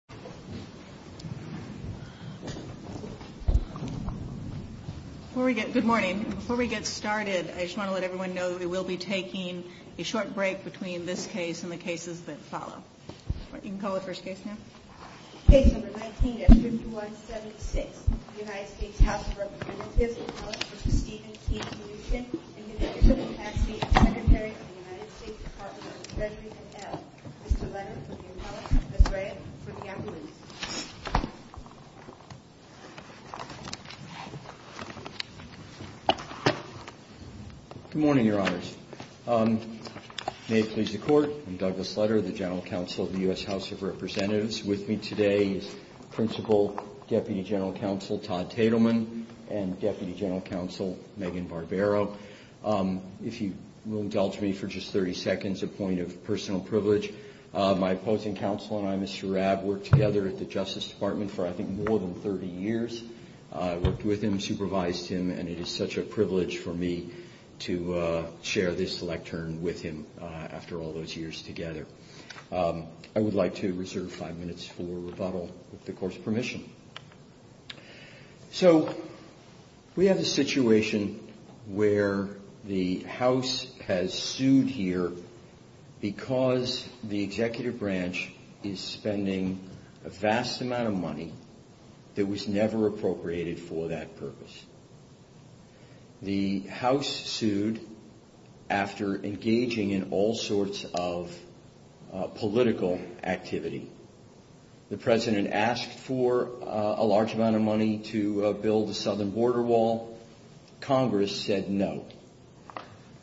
and United States Attorney for the United States Department of Justice, Leslie Hassell. Good morning, Your Honors. May it please the Court, I'm Douglas Lutter, the General Counsel of the U.S. House of Representatives. With me today is Principal Deputy General Counsel Todd Tatelman and Deputy General Counsel Megan Barbero. If you will indulge me for just 30 My opposing counsel and I, Mr. Rabb, worked together at the Justice Department for I think more than 30 years. I worked with him, supervised him, and it is such a privilege for me to share this lectern with him after all those years together. I would like to reserve five minutes for rebuttal with the Court's permission. So, we have a situation where the House has the Executive Branch is spending a vast amount of money that was never appropriated for that purpose. The House sued after engaging in all sorts of political activity. The President asked for a large amount of money to build the southern border wall. Congress said no.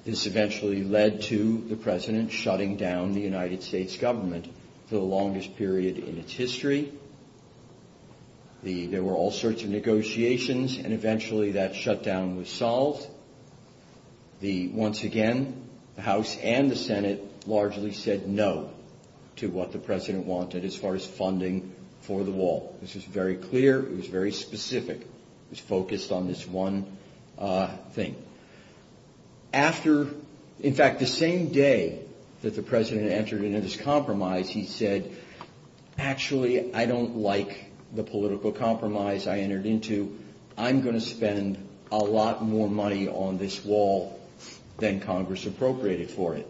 This eventually led to the President shutting down the United States government for the longest period in its history. There were all sorts of negotiations and eventually that shutdown was solved. Once again, the House and the Senate largely said no to what the President wanted as far as funding for the wall. This was very clear. It was very specific. It was focused on this one thing. After, in fact, the same day that the President entered into this compromise, he said, actually, I don't like the political compromise I entered into. I'm going to spend a lot more money on this wall than Congress appropriated for it.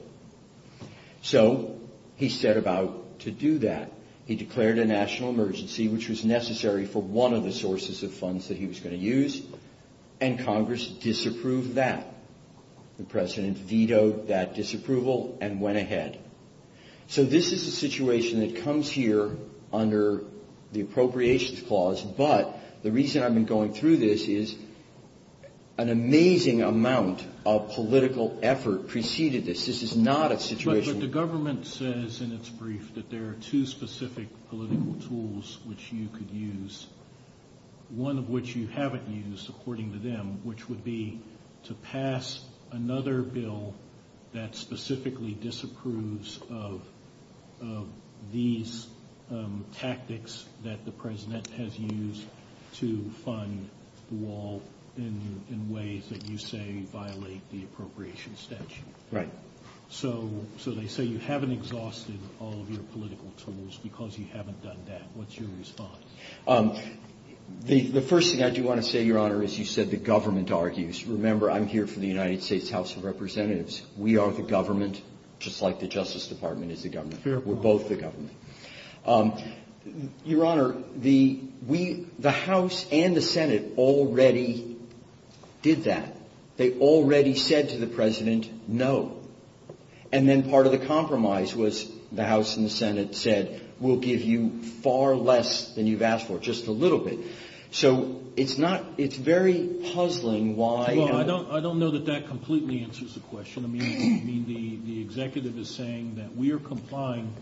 So, he set about to do that. He declared a national emergency, which was necessary for one of the sources of funds that he was going to use, and Congress disapproved that. The President vetoed that disapproval and went ahead. So, this is a situation that comes here under the Appropriations Clause, but the reason I've been going through this is an amazing amount of political effort preceded this. This is not a situation... that there are two specific political tools which you could use. One of which you haven't used, according to them, which would be to pass another bill that specifically disapproves of these tactics that the President has used to fund the wall in ways that you say violate the appropriations statute. So, they say you haven't exhausted all of your political tools because you haven't done that. What's your response? The first thing I do want to say, Your Honor, is you said the government argues. Remember, I'm here for the United States House of Representatives. We are the government, just like the Justice Department is the government. We're both the government. Your Honor, the House and the Senate said to the President, no. And then part of the compromise was the House and the Senate said, we'll give you far less than you've asked for, just a little bit. So, it's not... it's very puzzling why... Well, I don't know that that completely answers the question. I mean, the executive is saying that we are complying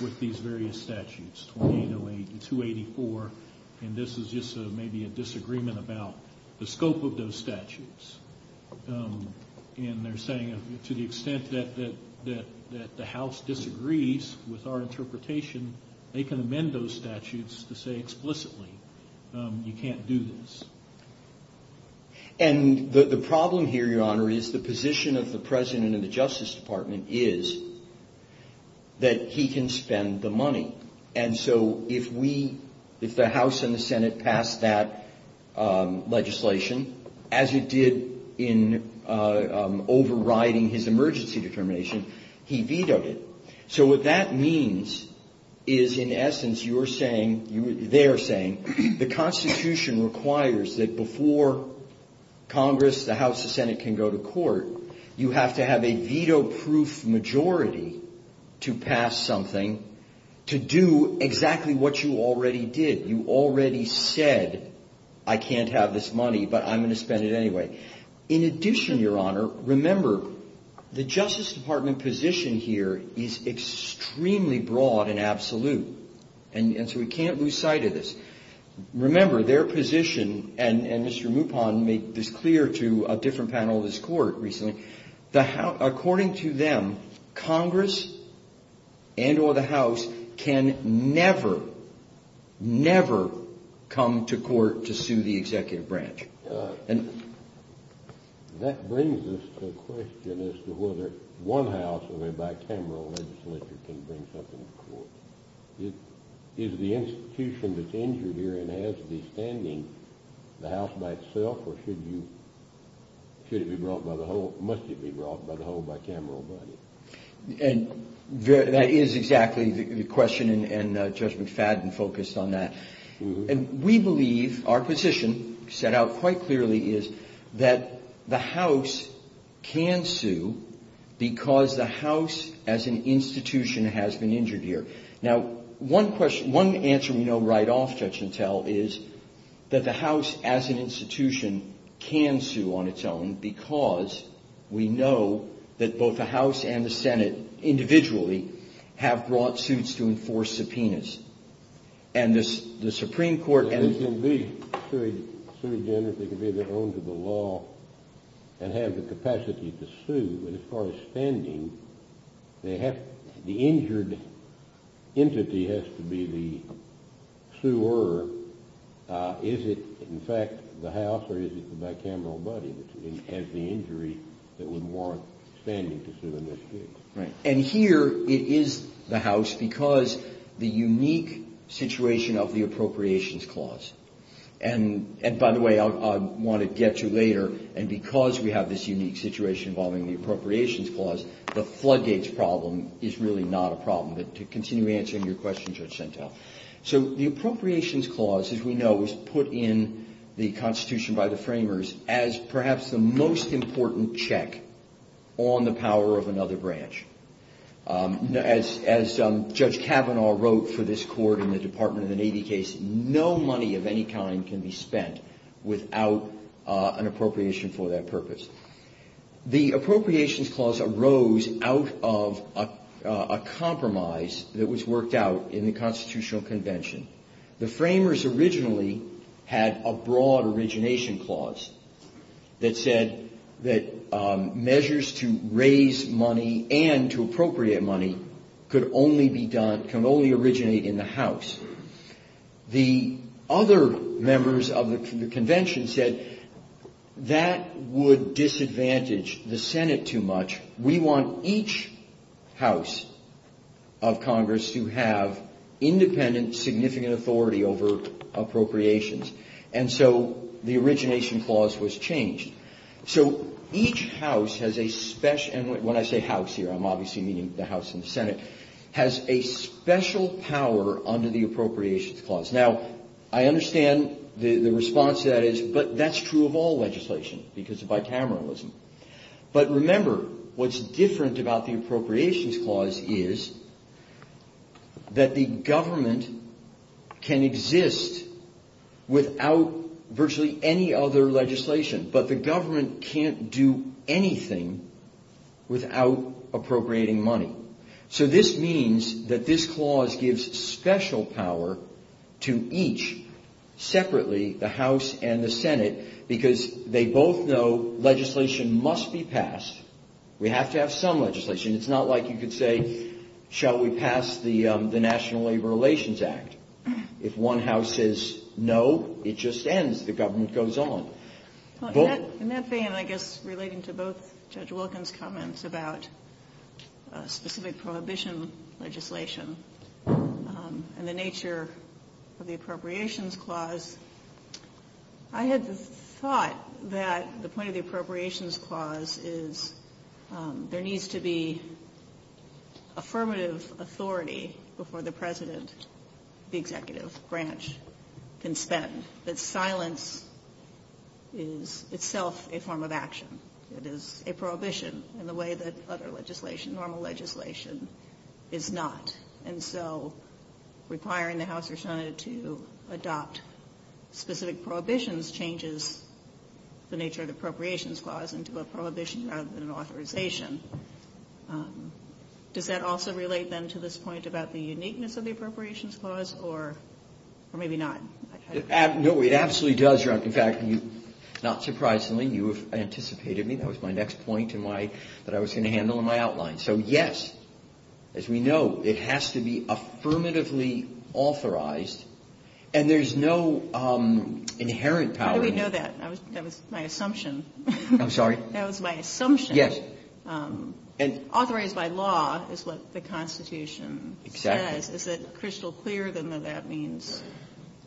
with these various statutes, 2808 to 284, and this is just maybe a disagreement about the scope of those statutes. And they're saying to the extent that the House disagrees with our interpretation, they can amend those statutes to say explicitly, you can't do this. And the problem here, Your Honor, is the position of the President and the Justice Department is that he can spend the money. And so, if we... if the House and the Senate pass that legislation, as it did in overriding his emergency determination, he vetoed it. So, what that means is, in essence, you're saying... they're saying, the Constitution requires that before Congress, the House, the Senate can go to court, you have to have a veto-proof majority to pass something to do exactly what you already did. You already said, I can't have this money, but I'm going to spend it anyway. In addition, Your Honor, remember, the Justice Department position here is extremely broad and absolute. And so, we can't lose sight of this. Remember, their position, and Mr. Mupon made this clear to a different panel in this court recently, according to them, Congress and or the House can never, never come to court to sue the executive branch. That brings us to a question as to whether one House or a bicameral legislature can bring something to court. Is the institution that's injured here and has to be standing, the House by itself, or should you... should it be brought by the whole... must it be brought by the whole bicameral body? And that is exactly the question, and Judge McFadden focused on that. And we believe, our position set out quite clearly is that the House can sue because the House, as an institution, can sue on its own because we know that both the House and the Senate, individually, have brought suits to enforce subpoenas. And the Supreme Court... They can be sued again if they can be able to own to the law and have the capacity to sue, but as far as standing, the injured entity has to be the suer. Is it, in fact, the House or is it the bicameral body that has the injury that would warrant standing to sue in this case? And here, it is the House because the unique situation of the Appropriations Clause, and by the way, I want to get to later, and because we have this unique situation involving the Appropriations Clause, the floodgates problem is really not a problem, but to continue answering your question, Judge Santel. So, the Appropriations Clause, as we know, was put in the As Judge Kavanaugh wrote for this court in the Department of the Navy case, no money of any kind can be spent without an appropriation for that purpose. The Appropriations Clause arose out of a compromise that was worked out in the Constitutional Convention. The framers originally had a broad origination clause that said that measures to raise money and to appropriate money could only be done, can only originate in the House. The other members of the Convention said that would disadvantage the Senate too much. We want each House of Congress to have independent, significant authority over appropriations. And so, the origination clause was changed. So, each House has a special, and when I say House here, I'm obviously meaning the House and the Senate, has a special power under the Appropriations Clause. Now, I understand the response to that is, but that's true of all legislation, because of bicameralism. But that the government can exist without virtually any other legislation. But the government can't do anything without appropriating money. So, this means that this clause gives special power to each separately, the House and the Senate, because they both know legislation must be passed. We have to pass some legislation. It's not like you could say, shall we pass the National Labor Relations Act? If one House says no, it just ends. The government goes on. In that vein, I guess, relating to both Judge Wilkins' comments about specific prohibition legislation and the nature of the Appropriations Clause, I had the thought that the point of the Appropriations Clause is there needs to be affirmative authority before the president, the executive branch, can spend. That silence is itself a form of action. It is a prohibition in the way that other legislation, normal legislation, is not. And so, requiring the House or Senate to adopt specific prohibitions changes the nature of the Appropriations Clause into a prohibition rather than an authorization. Does that also relate, then, to this point about the uniqueness of the Appropriations Clause, or maybe not? No, it absolutely does. Not surprisingly, you anticipated me. That was my next point that I was going to handle in my outline. So, yes, as we know, it has to be affirmatively authorized. And there's no inherent power... How do we know that? That was my assumption. I'm sorry? That was my assumption. Yes. Authorized by law is what the Constitution says. Is it crystal clear, then, that that means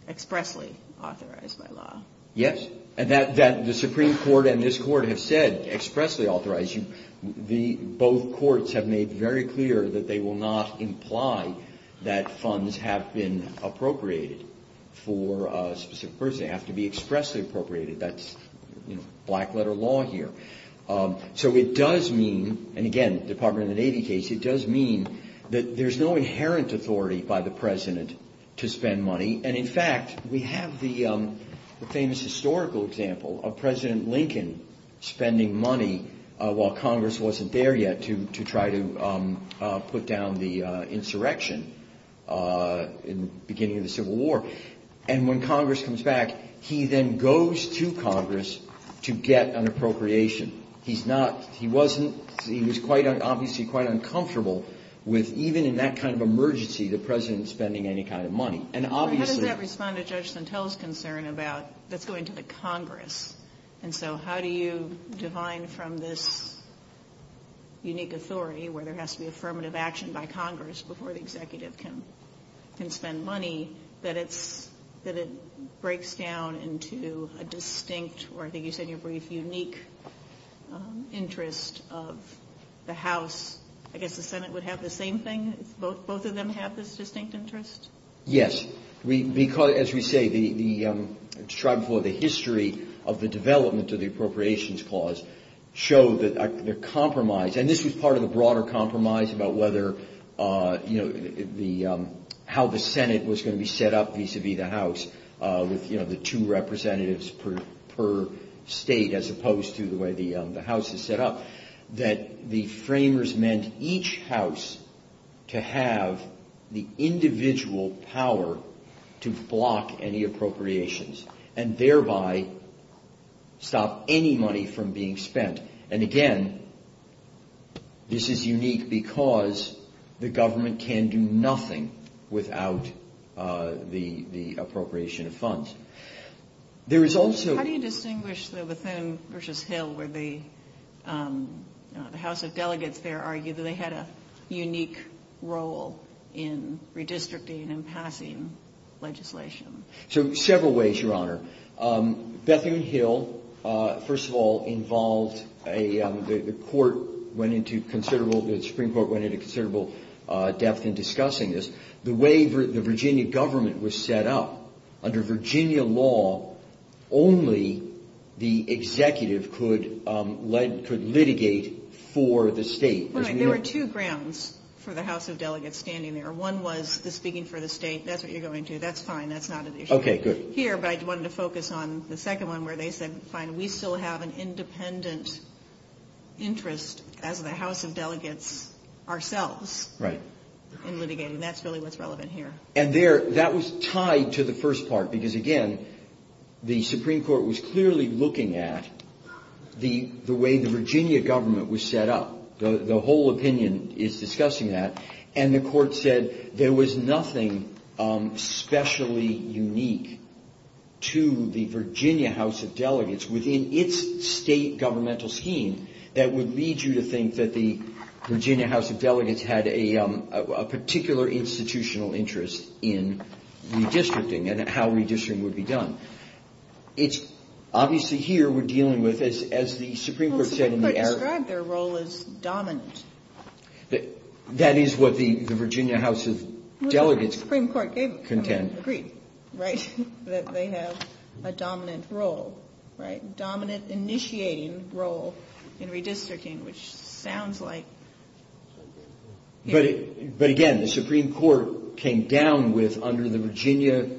expressly authorized by law? Yes. And that the Supreme Court and this Court have said, expressly authorized. Both courts have made very clear that they will not imply that funds have been appropriated for a specific person. They have to be expressly appropriated. That's black-letter law here. So it does mean, and again, Department of the Navy case, it does mean that there's no inherent authority by the President to spend money. And, in fact, we have the famous historical example of President Lincoln spending money while Congress wasn't there yet to try to put down the insurrection in the beginning of the Civil War. And when Congress comes back, he then goes to Congress to get an appropriation. He's not... He wasn't... He was quite, obviously, quite uncomfortable with, even in that kind of emergency, the President spending any kind of money. And obviously... How does that respond to Judge Santel's concern about the fluid to the unique authority, where there has to be affirmative action by Congress before the executive can spend money, that it breaks down into a distinct, or I think you said your brief, unique interest of the House? I guess the Senate would have the same thing? Both of them have this distinct interest? Yes. Because, as we say, the history of the development of the Appropriations Clause showed that the compromise, and this was part of the broader compromise about how the Senate was going to be set up vis-à-vis the House, with the two representatives per state, as opposed to the way the House is set up, that the framers meant each House to have the individual power to block any appropriations, and thereby stop any money from being spent. And again, this is unique because the government can do nothing without the appropriation of funds. There is also... The House of Delegates there argued that they had a unique role in redistricting and passing legislation. So, several ways, Your Honor. Bethany Hill, first of all, involved... The Supreme Court went into considerable depth in There were two grounds for the House of Delegates standing there. One was the speaking for the state. That's what you're going to. That's fine. That's not an issue. Here, I wanted to focus on the second one, where they said, fine, we still have an independent interest as the House of Delegates ourselves in litigating. That's really what's relevant here. And there, that was tied to the first part, because again, the Supreme Court was clearly looking at the way the Virginia government was set up. The whole opinion is discussing that. And the Court said there was nothing specially unique to the Virginia House of Delegates within its state governmental scheme that would lead you to think that the Virginia House of Delegates had a particular institutional interest in redistricting and how redistricting would be done. Obviously, here, we're dealing with, as the Supreme Court said... The Supreme Court described their role as dominant. That is what the Virginia House of Delegates contend. The Supreme Court gave the Supreme Court's decree that they have a dominant role, a dominant initiating role in redistricting, which sounds like... But again, the Supreme Court came down with, under the Virginia,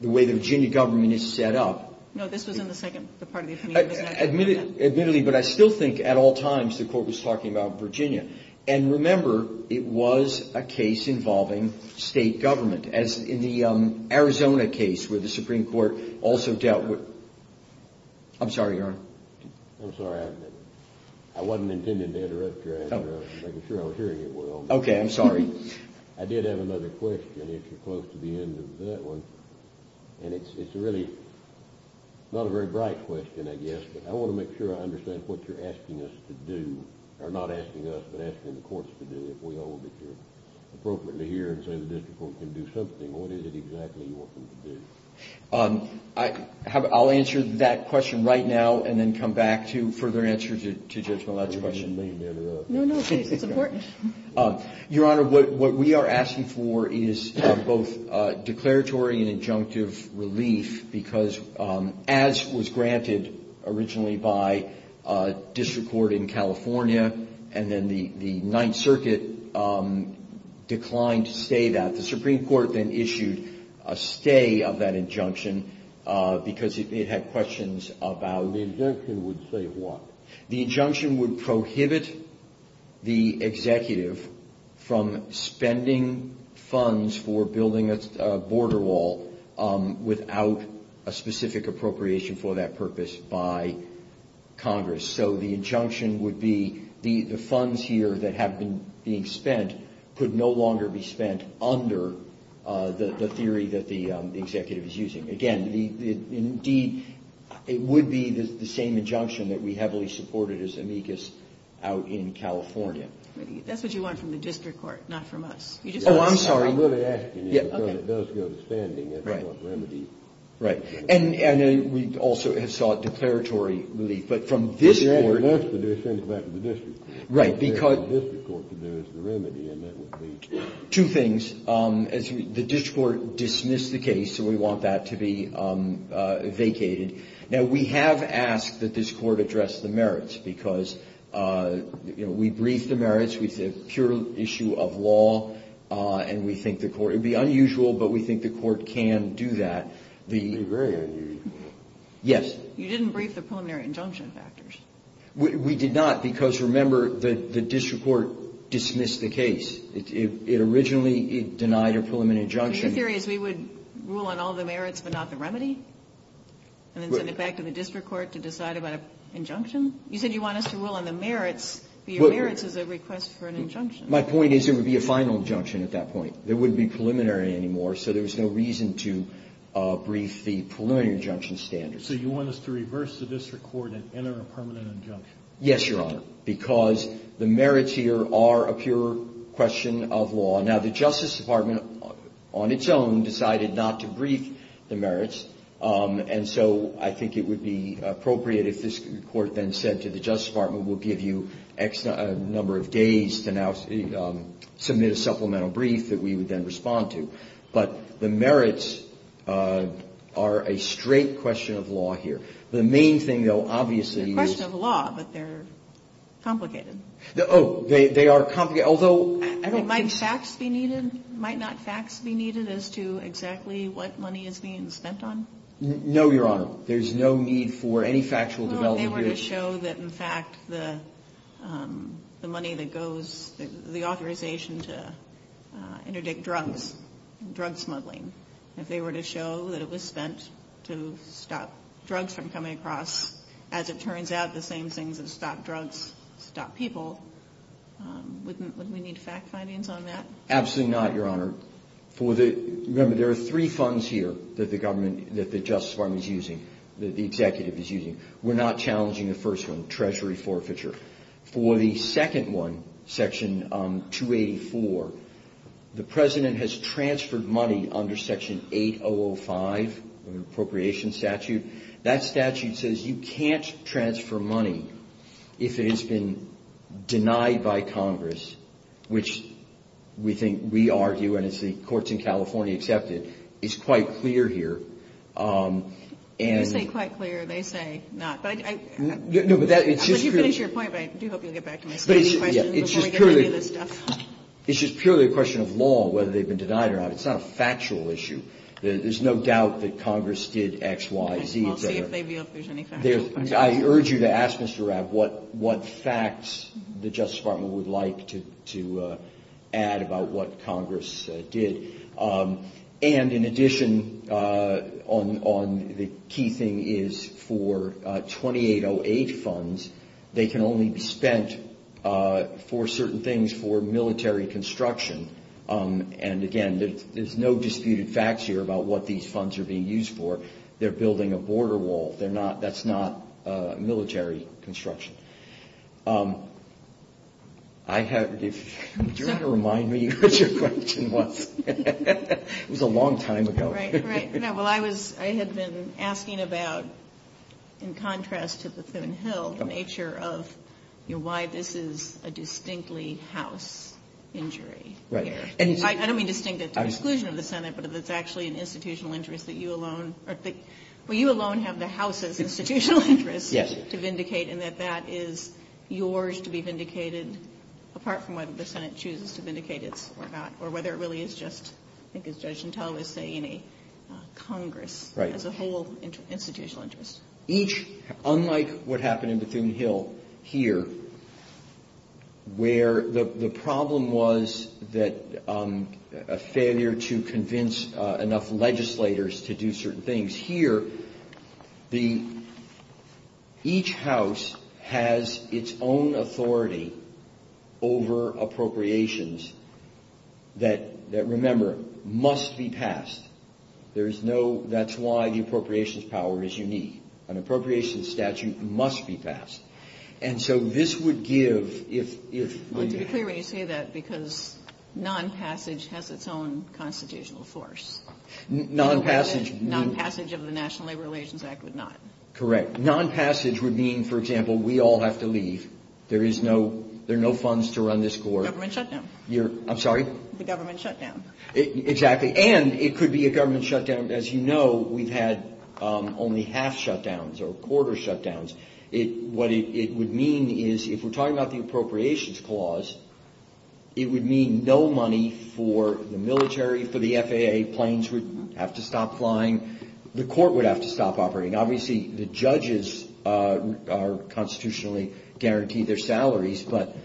the way the Virginia government is set up... No, this was in the second... Admittedly, but I still think, at all times, the Court was talking about Virginia. And remember, it was a case involving state government, as in the Arizona case, where the Supreme Court also dealt with... I'm sorry, Aaron. I'm sorry, I wasn't intending to interrupt your answer. I was making sure I was hearing it well. Okay, I'm sorry. I did have another question, if you're close to the end of that one. And it's really not a very bright question, I guess. But I want to make sure I understand what you're asking us to do. Or, not asking us, but asking the courts to do it. We all wish to appropriately hear and say the district court can do something. What is it exactly you want them to do? I'll answer that question right now and then come back to further answer to just the last question. No, no, it's important. Your Honor, what we are asking for is both declaratory and injunctive relief. Because, as was granted originally by district court in California, and then the Ninth Circuit declined to say that. The Supreme Court then issued a stay of that injunction, because it had questions about... The injunction would say what? The executive from spending funds for building a border wall without a specific appropriation for that purpose by Congress. So, the injunction would be the funds here that have been being spent could no longer be spent under the theory that the executive is using. Again, indeed, it would be the same injunction that we heavily supported as amicus out in California. That's what you want from the district court, not from us. Oh, I'm sorry. And then we also have sought declaratory relief, but from this court... Right, because... Two things. The district court dismissed the case, so we want that to be vacated. Now, we have asked that this court address the merits, because we briefed the merits. It's a pure issue of law, and we think the court... It would be unusual, but we think the court can do that. Yes. You didn't brief the preliminary injunction factors. We did not, because, remember, the district court dismissed the case. It originally denied a preliminary injunction. Your theory is we would rule on all the merits, but not the remedy? And then send it back to the district court to decide about an injunction? You said you want us to rule on the merits, but your merits is a request for an injunction. My point is it would be a final injunction at that point. It wouldn't be preliminary anymore, so there's no reason to brief the preliminary injunction standards. So you want us to reverse the district court and enter a permanent injunction? Yes, Your Honor, because the merits here are a pure question of law. Now, the Justice Department, on its own, decided not to brief the merits, and so I think it would be appropriate if this court then said to the Justice Department, we'll give you X number of days to now submit a supplemental brief that we would then respond to. But the merits are a straight question of law here. The main thing, though, obviously is... They're a question of law, but they're complicated. Oh, they are complicated, although... Might not facts be needed as to exactly what money is being spent on? No, Your Honor. There's no need for any factual development. If they were to show that, in fact, the money that goes, the authorization to interdict drugs, drug smuggling, if they were to show that it was spent to stop drugs from coming across, as it turns out, the same thing to stop drugs, stop people, wouldn't we need fact findings on that? Absolutely not, Your Honor. Remember, there are three funds here that the government, that the Justice Department is using, that the executive is using. We're not challenging the first one, treasury forfeiture. For the second one, Section 284, the President has transferred money under Section 8005, an appropriation statute. That statute says you can't transfer money if it has been denied by Congress, which we think, we argue, and it's the courts in California that accept it. It's quite clear here. You say quite clear, they say not. You finish your point, but I do hope you'll get back to me. It's just purely a question of law, whether they've been denied or not. It's not a factual issue. There's no doubt that Congress did X, Y, Z there. I urge you to ask Mr. Rapp what facts the Justice Department would like to add about what Congress did. And, in addition, the key thing is for 2808 funds, they can only be spent for certain things for military construction. And, again, there's no disputed facts here about what these funds are being used for. They're building a border wall. That's not military construction. If you're going to remind me what your question was, it was a long time ago. Well, I had been asking about, in contrast to the Thune-Hill, the nature of why this is a distinctly House injury. I don't mean to think it's an exclusion of the Senate, but it's actually an institutional interest that you alone have the House's institutional interest to vindicate, and that that is yours to be vindicated, apart from whether the Senate chooses to vindicate it or not, or whether it really is just, I think as Judge Gentile would say, in a Congress as a whole institutional interest. Unlike what happened in the Thune-Hill here, where the problem was a failure to convince enough legislators to do certain things, here, each House has its own authority over appropriations that, remember, must be passed. That's why the appropriations power is unique. An appropriations statute must be passed. And so this would give, if... Let's be clear when you say that, because non-passage has its own constitutional source. Non-passage... Non-passage of the National Labor Relations Act would not. Correct. Non-passage would mean, for example, we all have to leave. There are no funds to run this board. Government shutdown. I'm sorry? The government shutdown. Exactly. And it could be a government shutdown. As you know, we've had only half shutdowns or quarter shutdowns. What it would mean is, if we're talking about the appropriations clause, it would mean no money for the military, for the FAA, planes would have to stop flying, the court would have to stop operating. Obviously, the judges are constitutionally guaranteed their salaries, but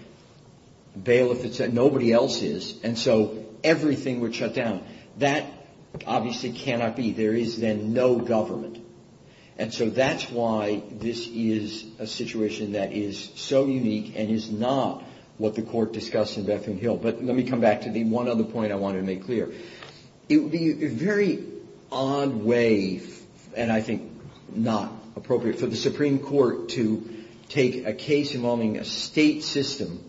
bail if it's at nobody else's. And so everything would shut down. That obviously cannot be. There is then no government. And so that's why this is a situation that is so unique and is not what the court discussed in Bethlehem Hill. But let me come back to the one other point I want to make clear. It would be a very odd way, and I think not appropriate, for the Supreme Court to take a case involving a state system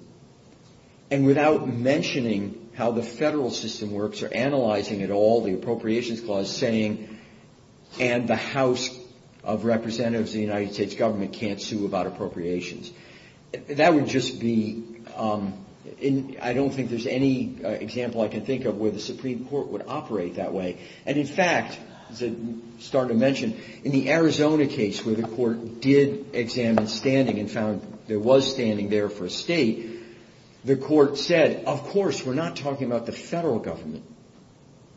and without mentioning how the federal system works or analyzing it all, the appropriations clause, saying, and the House of Representatives of the United States government can't sue about appropriations. That would just be, I don't think there's any example I can think of where the Supreme Court would operate that way. And in fact, starting to mention, in the Arizona case where the court did examine standing and found there was standing there for a state, the court said, of course, we're not talking about the federal government.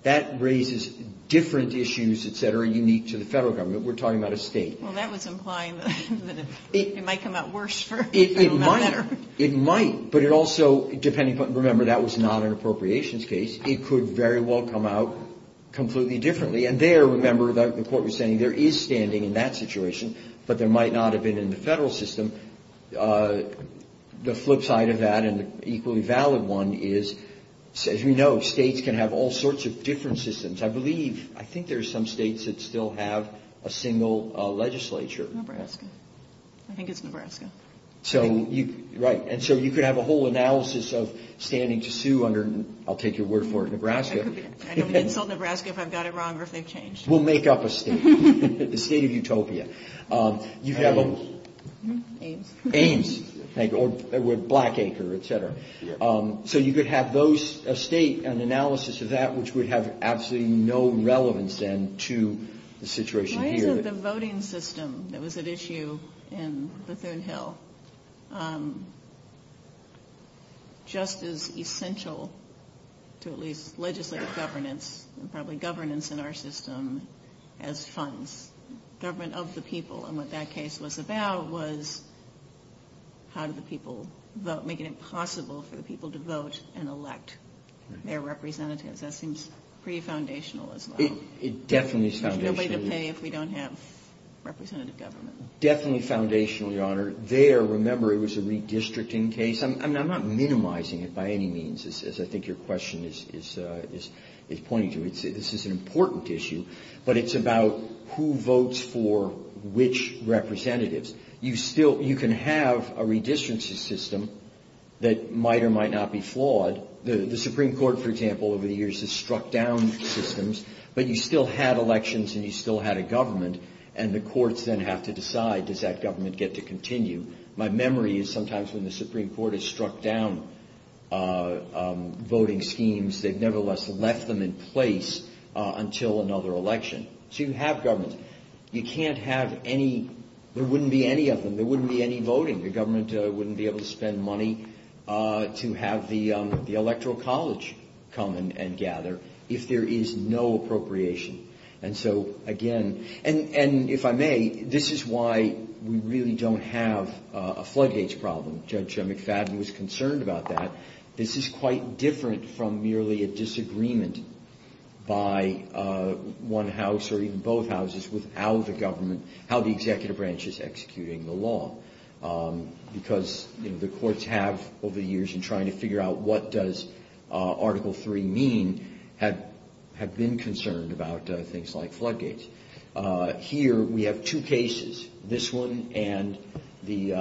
That raises different issues, et cetera, unique to the federal government. We're talking about a state. Well, that was implying that it might come out worse. It might, but it also, remember, that was not an appropriations case. It could very well come out completely differently. And there, remember, the court was saying there is standing in that situation, but there might not have been in the federal system. The flip side of that, and the equally valid one is, as you know, states can have all sorts of different systems. I believe, I think there are some states that still have a single legislature. Nebraska. I think it's Nebraska. Right. And so you could have a whole analysis of standing to sue under, I'll take your word for it, Nebraska. I can tell Nebraska if I've got it wrong or if they've changed. We'll make up a state. The state of Utopia. Ames. Ames. Black Acre, et cetera. So you could have those, a state, an analysis of that, which would have absolutely no relevance then to the situation here. The voting system that was at issue in the Third Hill, just as essential to at least legislative governance, and probably governance in our system, as funds. Government of the people, and what that case was about was how do the people vote, making it possible for the people to vote and elect their representatives. That seems pretty foundational as well. It definitely is foundational. Somebody just may, if we don't have representative government. Definitely foundational, Your Honor. There, remember, it was a redistricting case. I'm not minimizing it by any means, as I think your question is pointing to. This is an important issue, but it's about who votes for which representatives. You can have a redistricting system that might or might not be flawed. The Supreme Court, for example, over the years has struck down systems, but you still had elections and you still had a government, and the courts then have to decide, does that government get to continue? My memory is sometimes when the Supreme Court has struck down voting schemes, they've nevertheless left them in place until another election. So you have government. You can't have any, there wouldn't be any of them. There wouldn't be any voting. The government wouldn't be able to spend money to have the electoral college come and gather if there is no appropriation. And so, again, and if I may, this is why we really don't have a floodgates problem. Judge McFadden was concerned about that. This is quite different from merely a disagreement by one house or even both houses without the government, how the executive branch is executing the law. Because the courts have, over the years, in trying to figure out what does Article 3 mean, have been concerned about things like floodgates. Here we have two cases, this one and the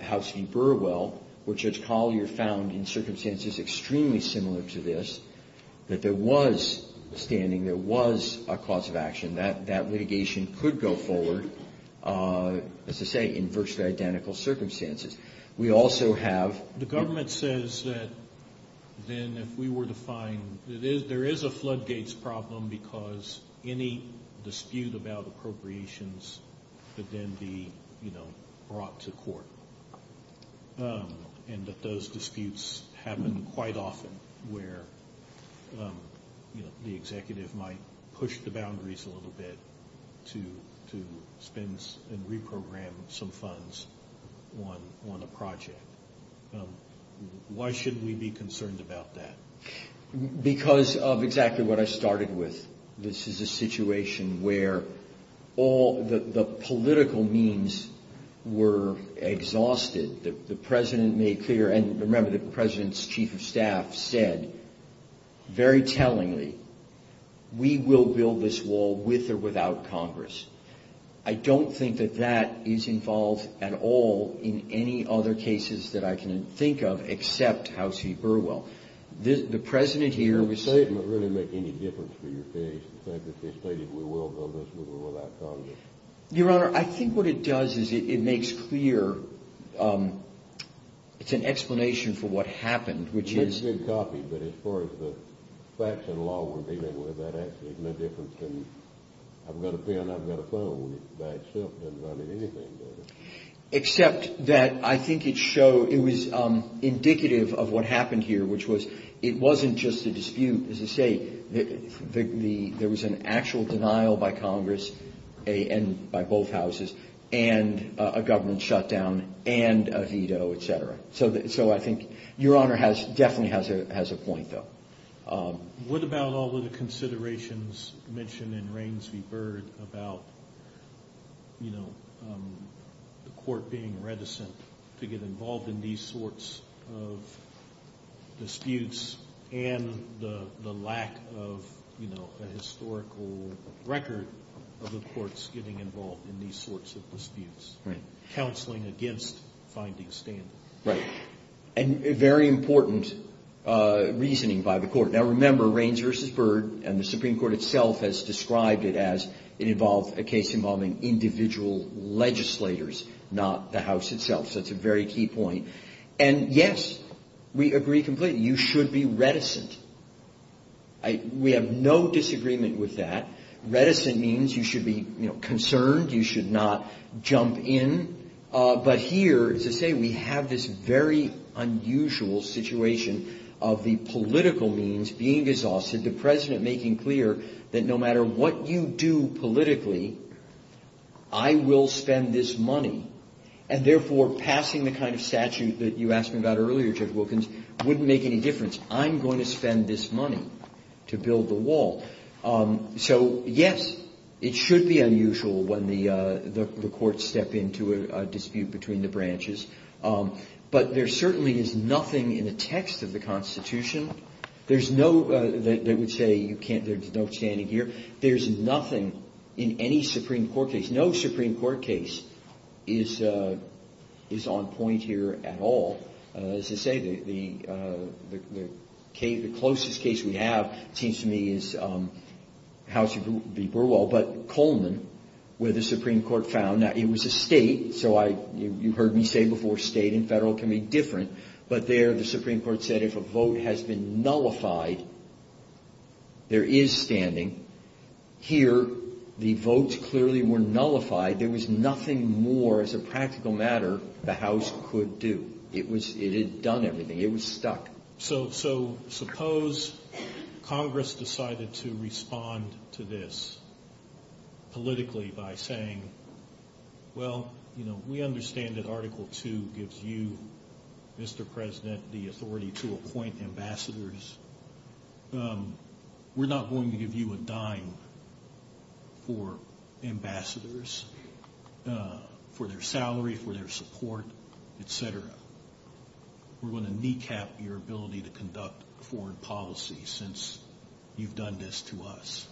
House v. Burwell, where Judge Collier found in circumstances extremely similar to this that there was standing, there was a cause of action, that litigation could go forward, as they say, in virtually identical circumstances. We also have- The government says that then if we were to find, there is a floodgates problem because any dispute about appropriations could then be brought to court. And that those disputes happen quite often, where the executive might push the boundaries a little bit to spend and reprogram some funds on a project. Why should we be concerned about that? Because of exactly what I started with. This is a situation where all the political means were exhausted. The President made clear, and remember the President's Chief of Staff said, very tellingly, we will build this wall with or without Congress. I don't think that that is involved at all in any other cases that I can think of except House v. Burwell. The President here- Does that statement really make any difference to your case, the fact that they stated we will build this with or without Congress? Your Honor, I think what it does is it makes clear, it's an explanation for what happened, which is- It's being copied, but as far as the facts and law we're dealing with, that actually is no different than I've got a pen and I've got a phone, which by itself doesn't tell me anything about it. Except that I think it showed, it was indicative of what happened here, which was it wasn't just a dispute. As I say, there was an actual denial by Congress and by both houses, and a government shutdown, and a veto, etc. So I think your Honor definitely has a point, though. What about all of the considerations mentioned in Reins v. Byrd about the court being reticent to get involved in these sorts of disputes, and the lack of a historical record of the courts getting involved in these sorts of disputes, counseling against finding stand- Right, and a very important reasoning by the court. Now remember, Reins v. Byrd and the Supreme Court itself has described it as it involved a case involving individual legislators, not the House itself, so that's a very key point. And yes, we agree completely, you should be reticent. We have no disagreement with that. Reticent means you should be concerned, you should not jump in. But here, as I say, we have this very unusual situation of the political means being exhausted, the President making clear that no matter what you do politically, I will spend this money. And therefore, passing the kind of statute that you asked me about earlier, Chip Wilkins, wouldn't make any difference. I'm going to spend this money to build the wall. So yes, it should be unusual when the courts step into a dispute between the branches, but there certainly is nothing in the text of the Constitution, there's no, they would say, there's no standing here, there's nothing in any Supreme Court case, no Supreme Court case is on point here at all. As I say, the closest case we have seems to me is House v. Burwell, but Coleman, where the Supreme Court found that it was a state, so you've heard me say before, state and federal can be different, but there the Supreme Court said if a vote has been nullified, there is standing, here the votes clearly were nullified, there was nothing more as a practical matter the House could do. It had done everything, it was stuck. So suppose Congress decided to respond to this politically by saying, well, we understand that Article 2 gives you, Mr. President, the authority to appoint ambassadors. We're not going to give you a dime for ambassadors, for their salary, for their support, etc. We're going to kneecap your ability to conduct foreign policy since you've done this to us.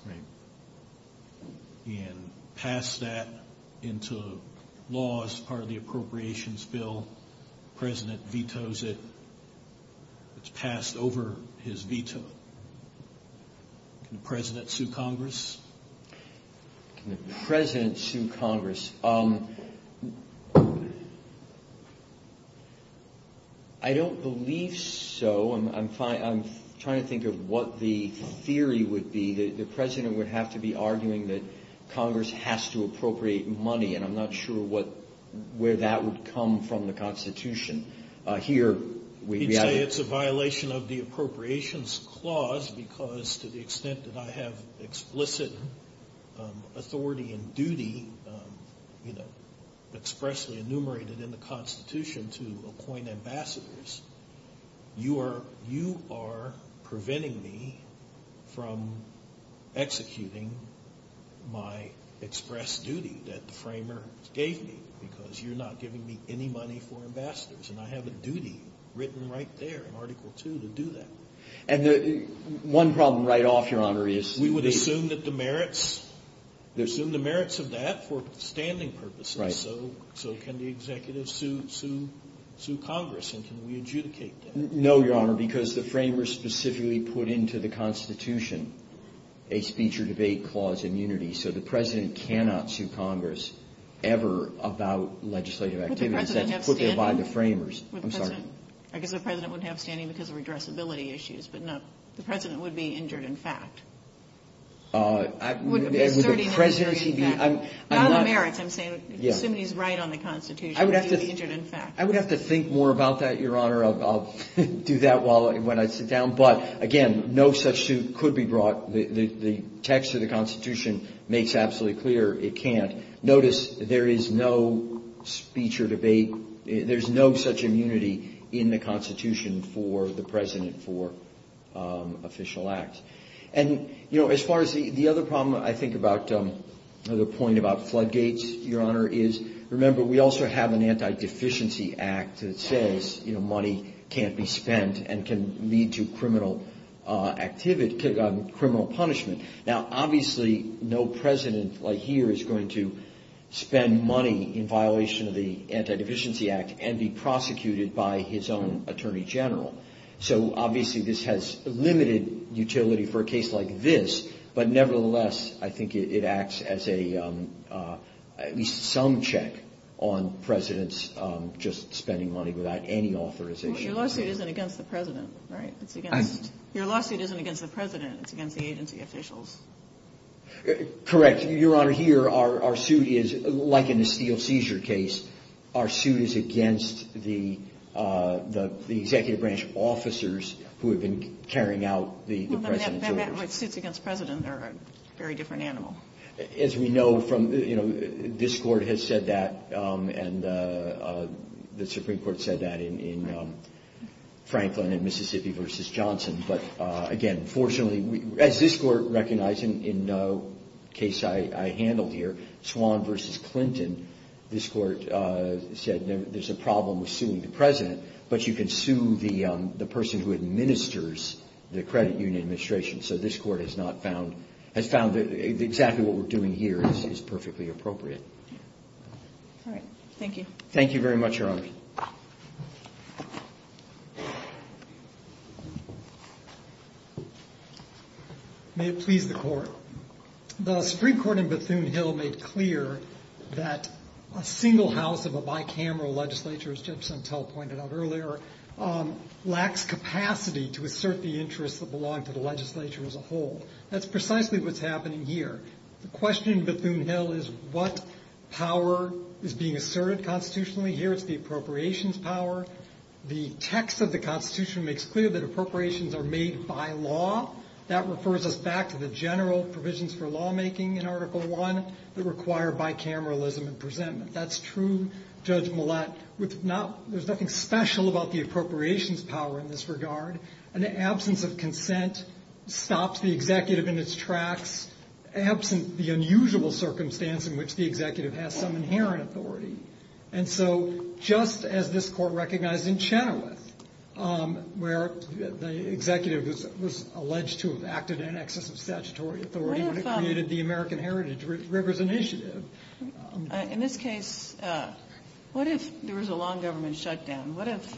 He had passed that into law as part of the Appropriations Bill. The President vetoes it. It's passed over his veto. Can the President sue Congress? Can the President sue Congress? I don't believe so. I'm trying to think of what the theory would be. The President would have to be arguing that Congress has to appropriate money, and I'm not sure where that would come from the Constitution. He'd say it's a violation of the Appropriations Clause because to the extent that I have explicit authority and duty expressly enumerated in the Constitution to appoint ambassadors, you are preventing me from executing my express duty that the Framers gave me because you're not giving me any money for ambassadors, and I have a duty written right there in Article 2 to do that. And one problem right off your honor is... We would assume that the merits of that were standing purposes. So can the Executive sue Congress, and can we adjudicate that? No, your honor, because the Framers specifically put into the Constitution a speech or debate clause in unity, so the President cannot sue Congress ever about legislative activities that were put there by the Framers. I guess the President would have standing because of redressability issues, but no. The President would be injured in fact. Would the President be injured in fact? By the merits, I'm assuming he's right on the Constitution. I would have to think more about that, your honor. I'll do that when I sit down. But again, no such suit could be brought. The text of the Constitution makes absolutely clear it can't. Notice there is no speech or debate. There's no such immunity in the Constitution for the President for official acts. And as far as the other problem I think about, another point about floodgates, your honor, is remember we also have an Anti-Deficiency Act that says money can't be spent and can lead to criminal punishment. Now obviously no President here is going to spend money in violation of the Anti-Deficiency Act and be prosecuted by his own Attorney General. So obviously this has limited utility for a case like this, but nevertheless I think it acts as at least some check on Presidents just spending money without any authorization. Your lawsuit isn't against the President, right? Your lawsuit isn't against the President. It's against the agency officials. Correct. Your honor, here our suit is, like in the Steele seizure case, our suit is against the executive branch officers who have been carrying out the President's orders. Well, let me ask you that. Suits against Presidents are a very different animal. As we know, this Court has said that and the Supreme Court said that in Franklin and Mississippi v. Johnson. But again, fortunately, as this Court recognized in the case I handled here, Swan v. Clinton, this Court said there's a problem with suing the President, but you can sue the person who administers the credit union administration. So this Court has found that exactly what we're doing here is perfectly appropriate. All right. Thank you. Thank you very much, Your Honor. May it please the Court. The Supreme Court in Bethune-Hill made clear that a single house of a bicameral legislature, as Judge Suntell pointed out earlier, lacks capacity to assert the interests of the law and for the legislature as a whole. That's precisely what's happening here. The question in Bethune-Hill is what power is being asserted constitutionally here. It's the appropriations power. The text of the Constitution makes clear that appropriations are made by law. That refers us back to the general provisions for lawmaking in Article I that require bicameralism and presentment. That's true. Judge Millett, there's nothing special about the appropriations power in this regard, and the absence of consent stops the executive in its tracks, absent the unusual circumstance in which the executive has some inherent authority. And so just as this Court recognized in Chenoweth where the executive was alleged to have acted in excess of statutory authority when it created the American Heritage Rivers Initiative. In this case, what if there was a law government shutdown? What if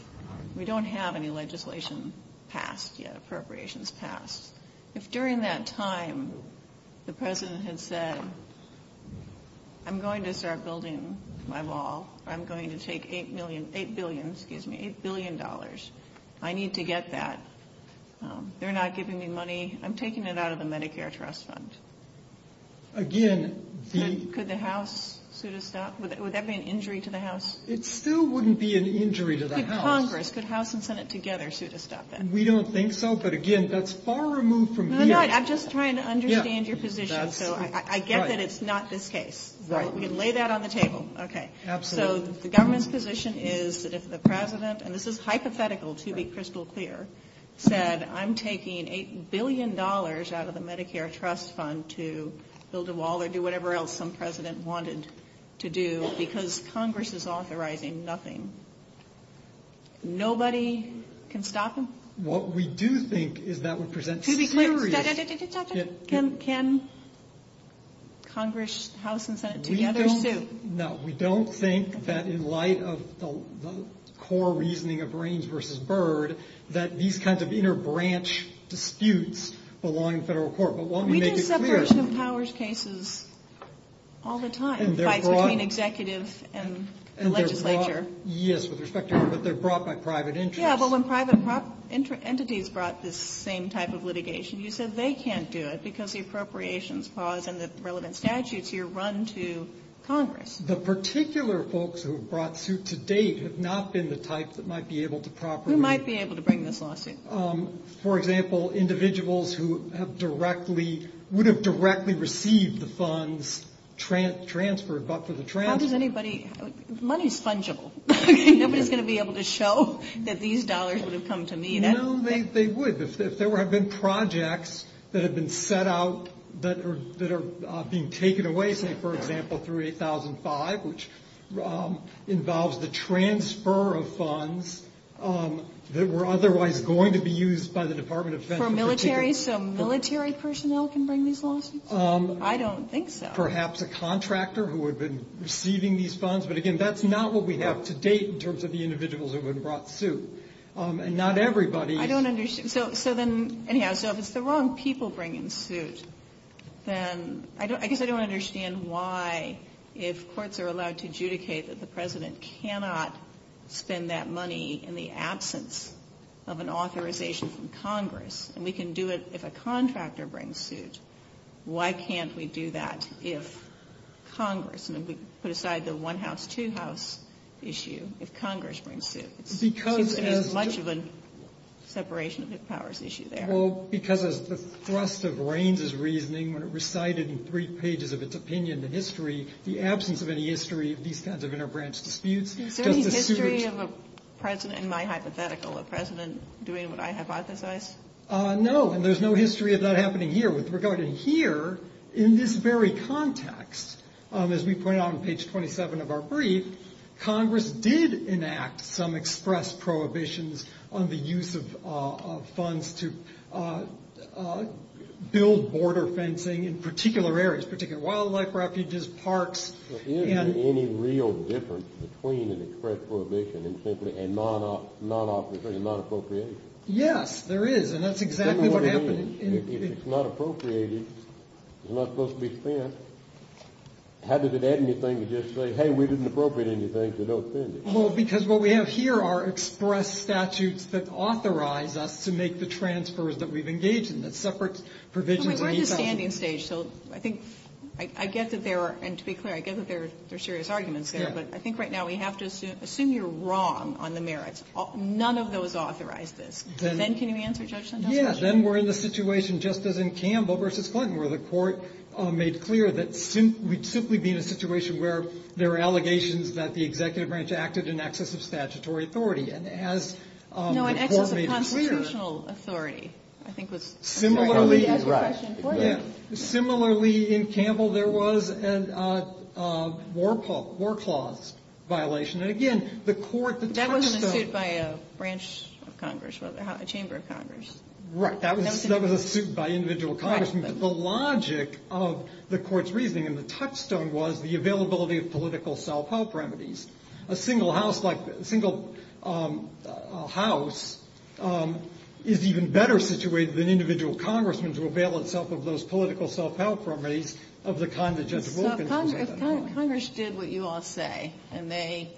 we don't have any legislation passed yet, appropriations passed? If during that time the president had said, I'm going to start building my wall. I'm going to take $8 billion. I need to get that. They're not giving me money. I'm taking it out of the Medicare trust fund. Again, the... Could the House sort of stop? Would that be an injury to the House? It still wouldn't be an injury to the House. The Congress. Could House and Senate together sort of stop that? We don't think so. But, again, that's far removed from... I'm just trying to understand your position. So I get that it's not this case. Lay that on the table. Okay. So the government's position is that if the president, and this is hypothetical to be crystal clear, said I'm taking $8 billion out of the Medicare trust fund to build a wall or do whatever else some president wanted to do because Congress is authorizing nothing. Nobody can stop him? What we do think is that would present... To be clear, Senator, did you stop him? Can Congress, House, and Senate together suit? No. We don't think that in light of the core reasoning of brains versus bird, that these kinds of interbranch disputes belong in federal court. But let me make it clear... There are some powers cases all the time between executives and the legislature. Yes, but they're brought by private entities. Yeah, but when private entities brought this same type of litigation, you said they can't do it because the appropriations clause and the relevant statutes here run to Congress. The particular folks who have brought suit to date have not been the type that might be able to properly... Who might be able to bring this lawsuit? For example, individuals who would have directly received the funds transferred, but for the transfer... How does anybody... Money is fungible. Nobody is going to be able to show that these dollars would have come to me. No, they would. If there have been projects that have been set out that are being taken away from, for example, which involves the transfer of funds that were otherwise going to be used by the Department of Defense... For military, so military personnel can bring these lawsuits? I don't think so. Perhaps a contractor who had been receiving these funds. But again, that's not what we have to date in terms of the individuals who have been brought suit. And not everybody... I don't understand. So then, if it's the wrong people bringing suit, then... I guess I don't understand why, if courts are allowed to adjudicate that the president cannot spend that money in the absence of an authorization from Congress, and we can do it if a contractor brings suit, why can't we do that if Congress? I mean, we could put aside the one-house, two-house issue if Congress brings suit. Because as... It's much of a separation of powers issue there. Well, because of the thrust of Reins' reasoning when it recited in three pages of its opinion the history, the absence of any history of these kinds of interbranch disputes... Is there any history of a president, in my hypothetical, a president doing what I hypothesized? No, and there's no history of that happening here. With regard to here, in this very context, as we point out on page 27 of our brief, Congress did enact some express prohibitions on the use of funds to build border fencing in particular areas, particular wildlife refuges, parks, and... But isn't there any real difference between an express prohibition and simply a non-appropriation? Yes, there is, and that's exactly what happened in... Well, because what we have here are express statutes that authorize us to make the transfers that we've engaged in, the separate provisions... We're at a standing stage, so I think... I get that there are... And to be clear, I get that there are serious arguments here, but I think right now we have to assume you're wrong on the merits. None of those authorize this. Then can you answer Judge Lindahl's question? The court made clear that we'd simply be in a situation where there are allegations that the executive branch acted in excess of statutory authority, and as the court made clear... No, in excess of constitutional authority, I think was... Similarly... Right. Similarly, in Campbell, there was a war clause violation, and again, the court... That wasn't included by a branch of Congress, a chamber of Congress. Right. That was a suit by individual congressmen. The logic of the court's reasoning and the touchstone was the availability of political self-help remedies. A single house is even better situated than individual congressmen to avail itself of those political self-help remedies of the kind that Judge Wolkin... Congress did what you all say, and they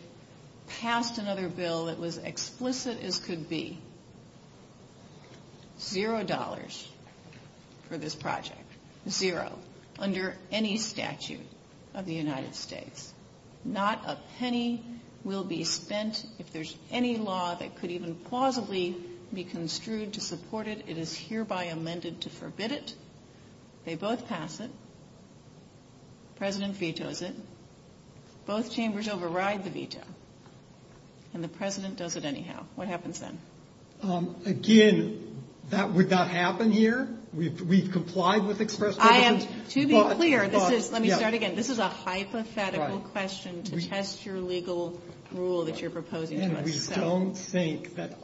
passed another bill that was explicit as could be. Zero dollars for this project. Zero. Under any statute of the United States. Not a penny will be spent if there's any law that could even plausibly be construed to support it. It is hereby amended to forbid it. They both pass it. The president vetoes it. Both chambers override the veto, and the president does it anyhow. What happens then? Again, would that happen here? We've complied with express... To be clear, let me start again. This is a hypothetical question to test your legal rule that you're proposing. We don't think that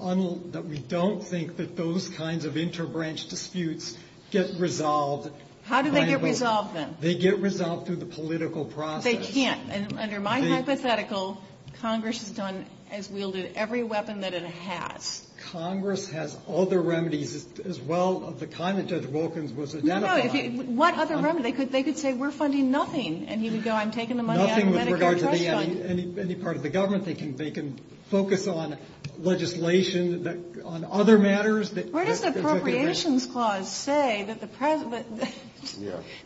those kinds of inter-branch disputes get resolved. How do they get resolved then? They get resolved through the political process. They can't. Under my hypothetical, Congress has done, has wielded every weapon that it has. Congress has other remedies as well of the kind that Judge Wolkin was identifying. What other remedy? They could say, we're funding nothing, and he would go, I'm taking the money out of Medicare. Any part of the government, they can focus on legislation, on other matters. What does the appropriations clause say that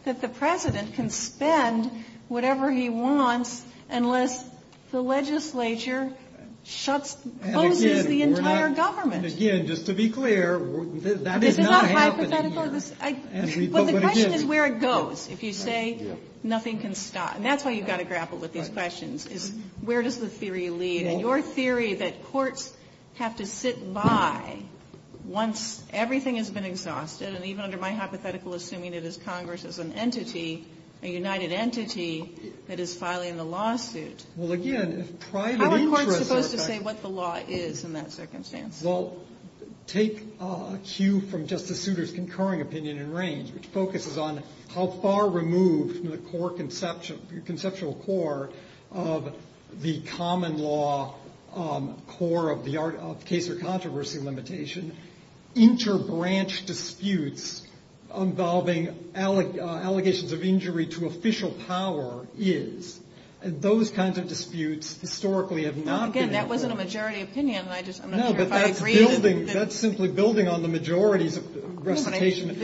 the president can spend whatever he wants unless the legislature closes the entire government? Again, just to be clear, that is not happening here. But the question is where it goes. If you say nothing can stop. That's why you've got to grapple with these questions is where does the theory lead? Your theory that courts have to sit by once everything has been exhausted, and even under my hypothetical assuming that it is Congress as an entity, a united entity that is filing the lawsuit. Well, again, it's private interest. How are courts supposed to say what the law is in that circumstance? Well, take a cue from Justice Souter's concurring opinion in Reign, which focuses on how far removed from the conceptual core of the common law core of the case or controversy limitation interbranch disputes involving allegations of injury to official power is. Those kinds of disputes historically have not been. Again, that wasn't a majority opinion. No, but that's simply building on the majority representation of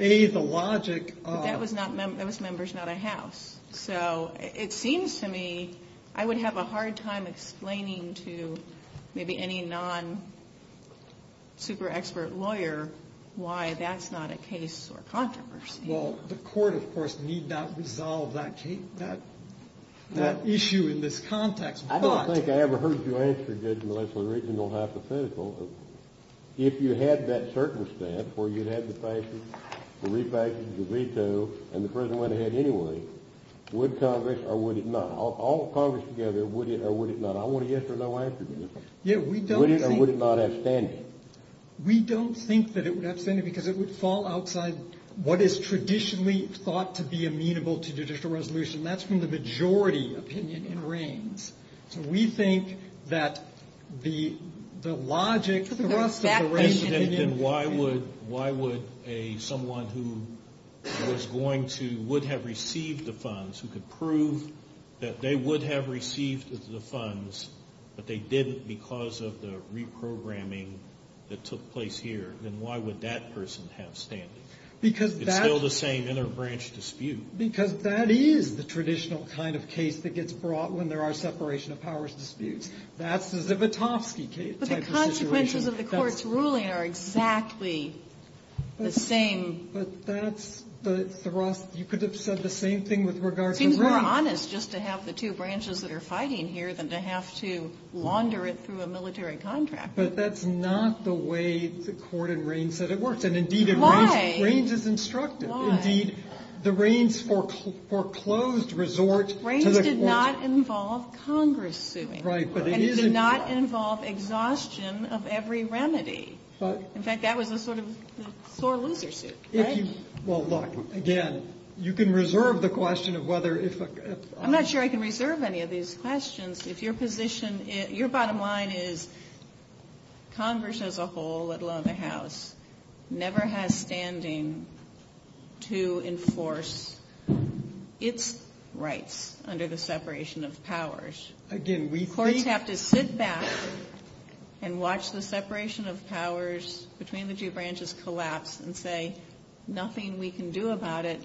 A, the logic. That was members, not a House. So it seems to me I would have a hard time explaining to maybe any non-super expert lawyer why that's not a case or controversy. Well, the court, of course, need not resolve that issue in this context. I don't think I ever heard you answer, Judge Melissa, original hypothetical. If you had that circumstance where you had the passage, the refactoring, the veto, and the President went ahead anyway, would Congress or would it not? All Congress together, would it or would it not? I want a yes or no answer to that. Would it or would it not have standing? We don't think that it would have standing because it would fall outside what is traditionally thought to be amenable to judicial resolution. That's when the majority opinion reigns. So we think that the logic of the rest of the range of opinions... Then why would someone who was going to, would have received the funds, who could prove that they would have received the funds, but they didn't because of the reprogramming that took place here, then why would that person have standing? It's still the same inner branch dispute. Because that is the traditional kind of case that gets brought when there are separation of powers disputes. That's the Zivotofsky type of situation. But the consequences of the court's ruling are exactly the same. But that's the thrust. You could have said the same thing with regard to... It would have been more honest just to have the two branches that are fighting here than to have to wander it through a military contractor. But that's not the way the court in reign said it worked. Why? Reigns is instructive. Why? Indeed, the reigns foreclosed resorts... Reigns did not involve Congress doing it. Right, but it is... And it did not involve exhaustion of every remedy. In fact, that was the sort of core leadership. Well, look, again, you can reserve the question of whether... I'm not sure I can reserve any of these questions. If your position, your bottom line is Congress as a whole, would love a house, never has standing to enforce its rights under the separation of powers. Again, we... Or you'd have to sit back and watch the separation of powers between the two branches collapse and say, nothing we can do about it.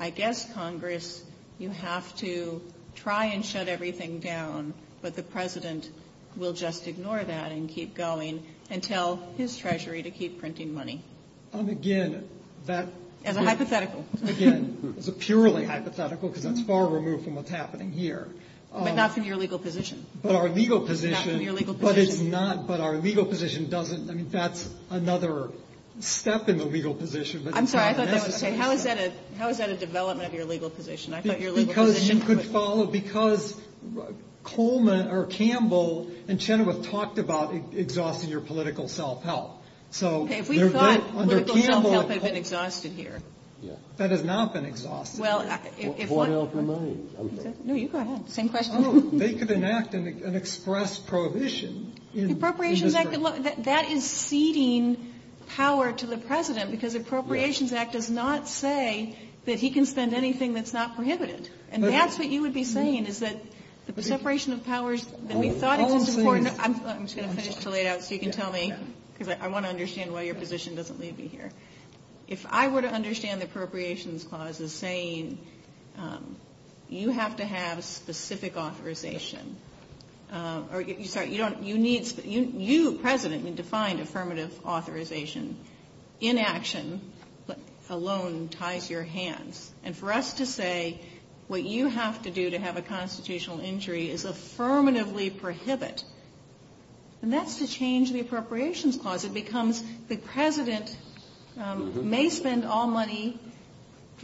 I guess, Congress, you have to try and shut everything down, but the president will just ignore that and keep going and tell his treasury to keep printing money. And, again, that... And a hypothetical. Again, it's a purely hypothetical because it's far removed from what's happening here. But not from your legal position. But our legal position... Not from your legal position. But it's not... But our legal position doesn't... I mean, that's another step in the legal position. I'm sorry, I thought you were going to say, how is that a development of your legal position? I thought your legal position... Because you could follow... Because Coleman or Campbell and Chenoweth talked about exhausting your political self-help. So... Okay, we thought political self-help had been exhausted here. That has not been exhausted. Well, it was... What else am I... No, you go ahead. Same question. They could enact an express prohibition. The Appropriations Act, that is ceding power to the president because the Appropriations Act does not say that he can spend anything that's not prohibited. And that's what you would be saying, is that the separation of powers that we thought was important... I'm sorry, I'm going to finish too late. I don't know if you can tell me, because I want to understand why your position doesn't leave me here. If I were to understand the Appropriations Clause as saying, you have to have specific authorization. Or, sorry, you don't... You need... You, president, need to find affirmative authorization. Inaction alone ties your hands. And for us to say what you have to do to have a constitutional injury is affirmatively prohibit. And that's to change the Appropriations Clause. It becomes the president may spend all money,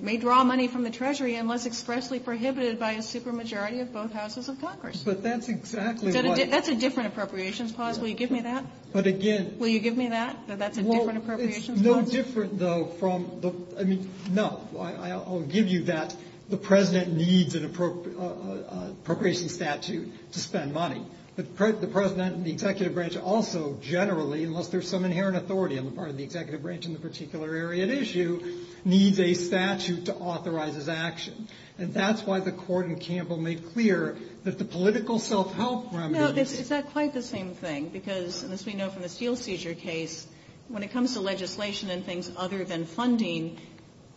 may draw money from the treasury unless expressly prohibited by a supermajority of both houses of Congress. But that's exactly what... That's a different Appropriations Clause. Will you give me that? But again... Will you give me that? That that's a different Appropriations Clause? No different, though, from the... I mean, no. I'll give you that. The president needs an appropriations statute to spend money. The president and the executive branch also generally, unless there's some inherent authority on the part of the executive branch in the particular area at issue, needs a statute to authorize his action. And that's why the court in Campbell made clear that the political self-help... No, it's quite the same thing. Because, as we know from the seal seizure case, when it comes to legislation and things other than funding,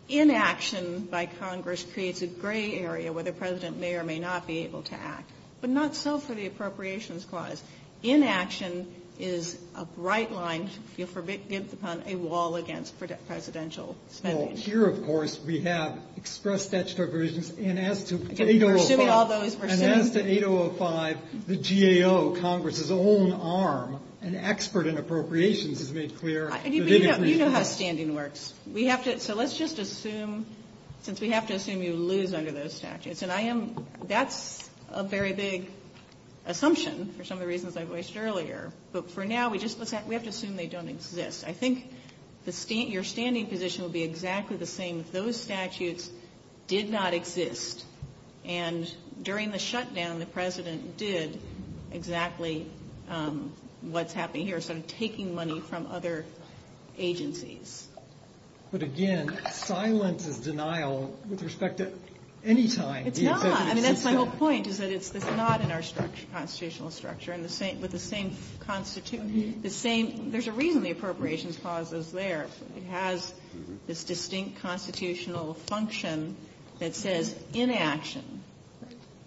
inaction by Congress creates a gray area where the president may or may not be able to act. But not so for the Appropriations Clause. Inaction is a bright line, a wall against presidential spending. Well, here, of course, we have express statutory provisions, and as to 8005, the GAO, Congress's own arm, an expert in appropriations, has made clear... You know how standing works. So let's just assume, since we have to assume you lose under those statutes, and that's a very big assumption for some of the reasons I voiced earlier. But for now, we have to assume they don't exist. I think your standing position will be exactly the same as those statutes did not exist. And during the shutdown, the president did exactly what's happening here, sort of taking money from other agencies. But again, silence of denial with respect to any time... It's not. I mean, that's my whole point, is that it's not in our constitutional structure. With the same... There's a reason the Appropriations Clause is there. It has this distinct constitutional function that says inaction.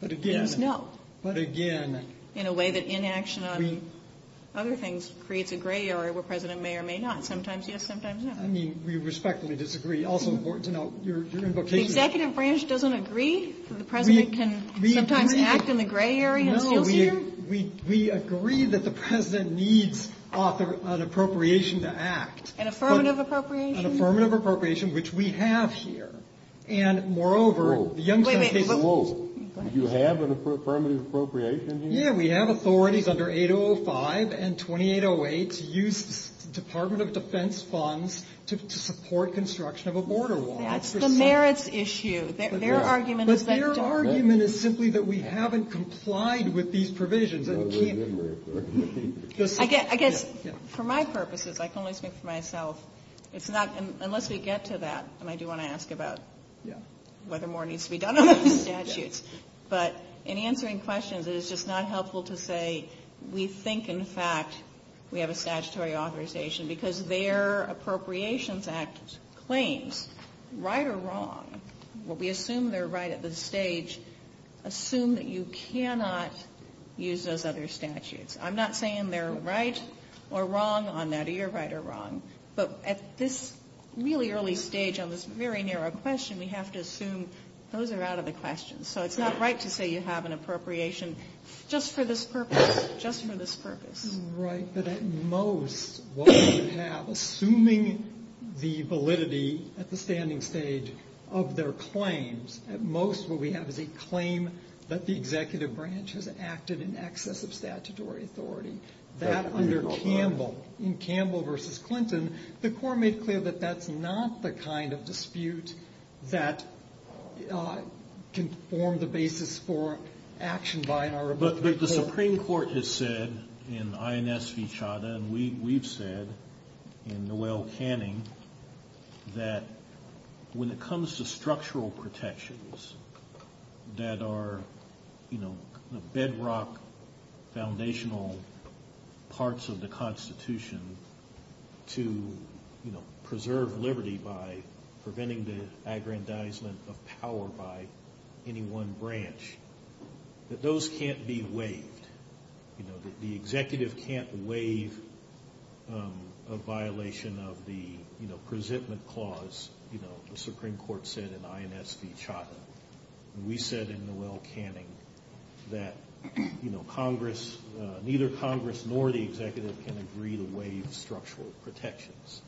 But again... No. But again... In a way that inaction on other things creates a gray area where the president may or may not. Sometimes yes, sometimes no. I mean, we respectfully disagree. Also important to note, your invocation... The executive branch doesn't agree? The president can sometimes act in the gray area? No, we agree that the president needs an appropriation to act. An affirmative appropriation? An affirmative appropriation, which we have here. And moreover... Whoa, whoa. You have an affirmative appropriation here? Yeah, we have authorities under 805 and 2808 to use Department of Defense funds to support construction of a border wall. That's the merits issue. Their argument is that... But their argument is simply that we haven't complied with these provisions. I guess for my purposes, I can only speak for myself, it's not... What more needs to be done about these statutes? But in answering questions, it is just not helpful to say, we think, in fact, we have a statutory authorization because their Appropriations Act claims, right or wrong, where we assume they're right at this stage, assume that you cannot use those other statutes. I'm not saying they're right or wrong on that, or you're right or wrong, but at this really early stage on this very narrow question, we have to assume those are out of the question. So it's not right to say you have an appropriation just for this purpose, just for this purpose. Right, but at most, what we have, assuming the validity at the standing stage of their claims, at most, what we have is a claim that the executive branch has acted in excess of statutory authority. That under Campbell, in Campbell versus Clinton, the court made clear that that's not the kind of dispute that can form the basis for action by an arbitrator. But the Supreme Court has said in INS v. Chadha, and we've said in Noel Canning, that when it comes to structural protections that are, you know, the bedrock foundational parts of the Constitution to, you know, preserve liberty by preventing the aggrandizement of power by any one branch, that those can't be waived. You know, that the executive can't waive a violation of the, you know, presentment clause, you know, the Supreme Court said in INS v. Chadha. We said in Noel Canning that, you know, Congress, neither Congress nor the executive can agree to waive structural protections.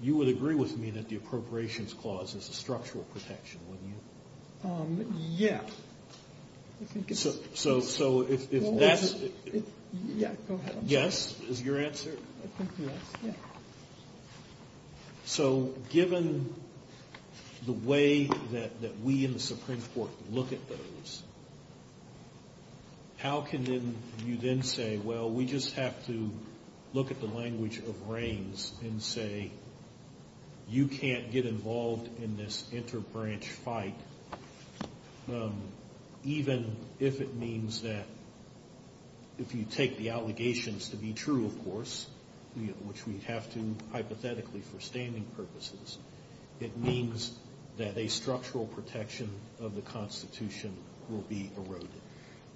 You would agree with me that the Appropriations Clause is a structural protection, wouldn't you? Yes. So if that's... Yeah, go ahead. Yes, is your answer? So given the way that we in the Supreme Court look at those, how can you then say, well, we just have to look at the language of reigns and say you can't get involved in this inter-branch fight, even if it means that if you take the allegations to be true, of course, which we have to hypothetically for standing purposes, it means that a structural protection of the Constitution will be eroded.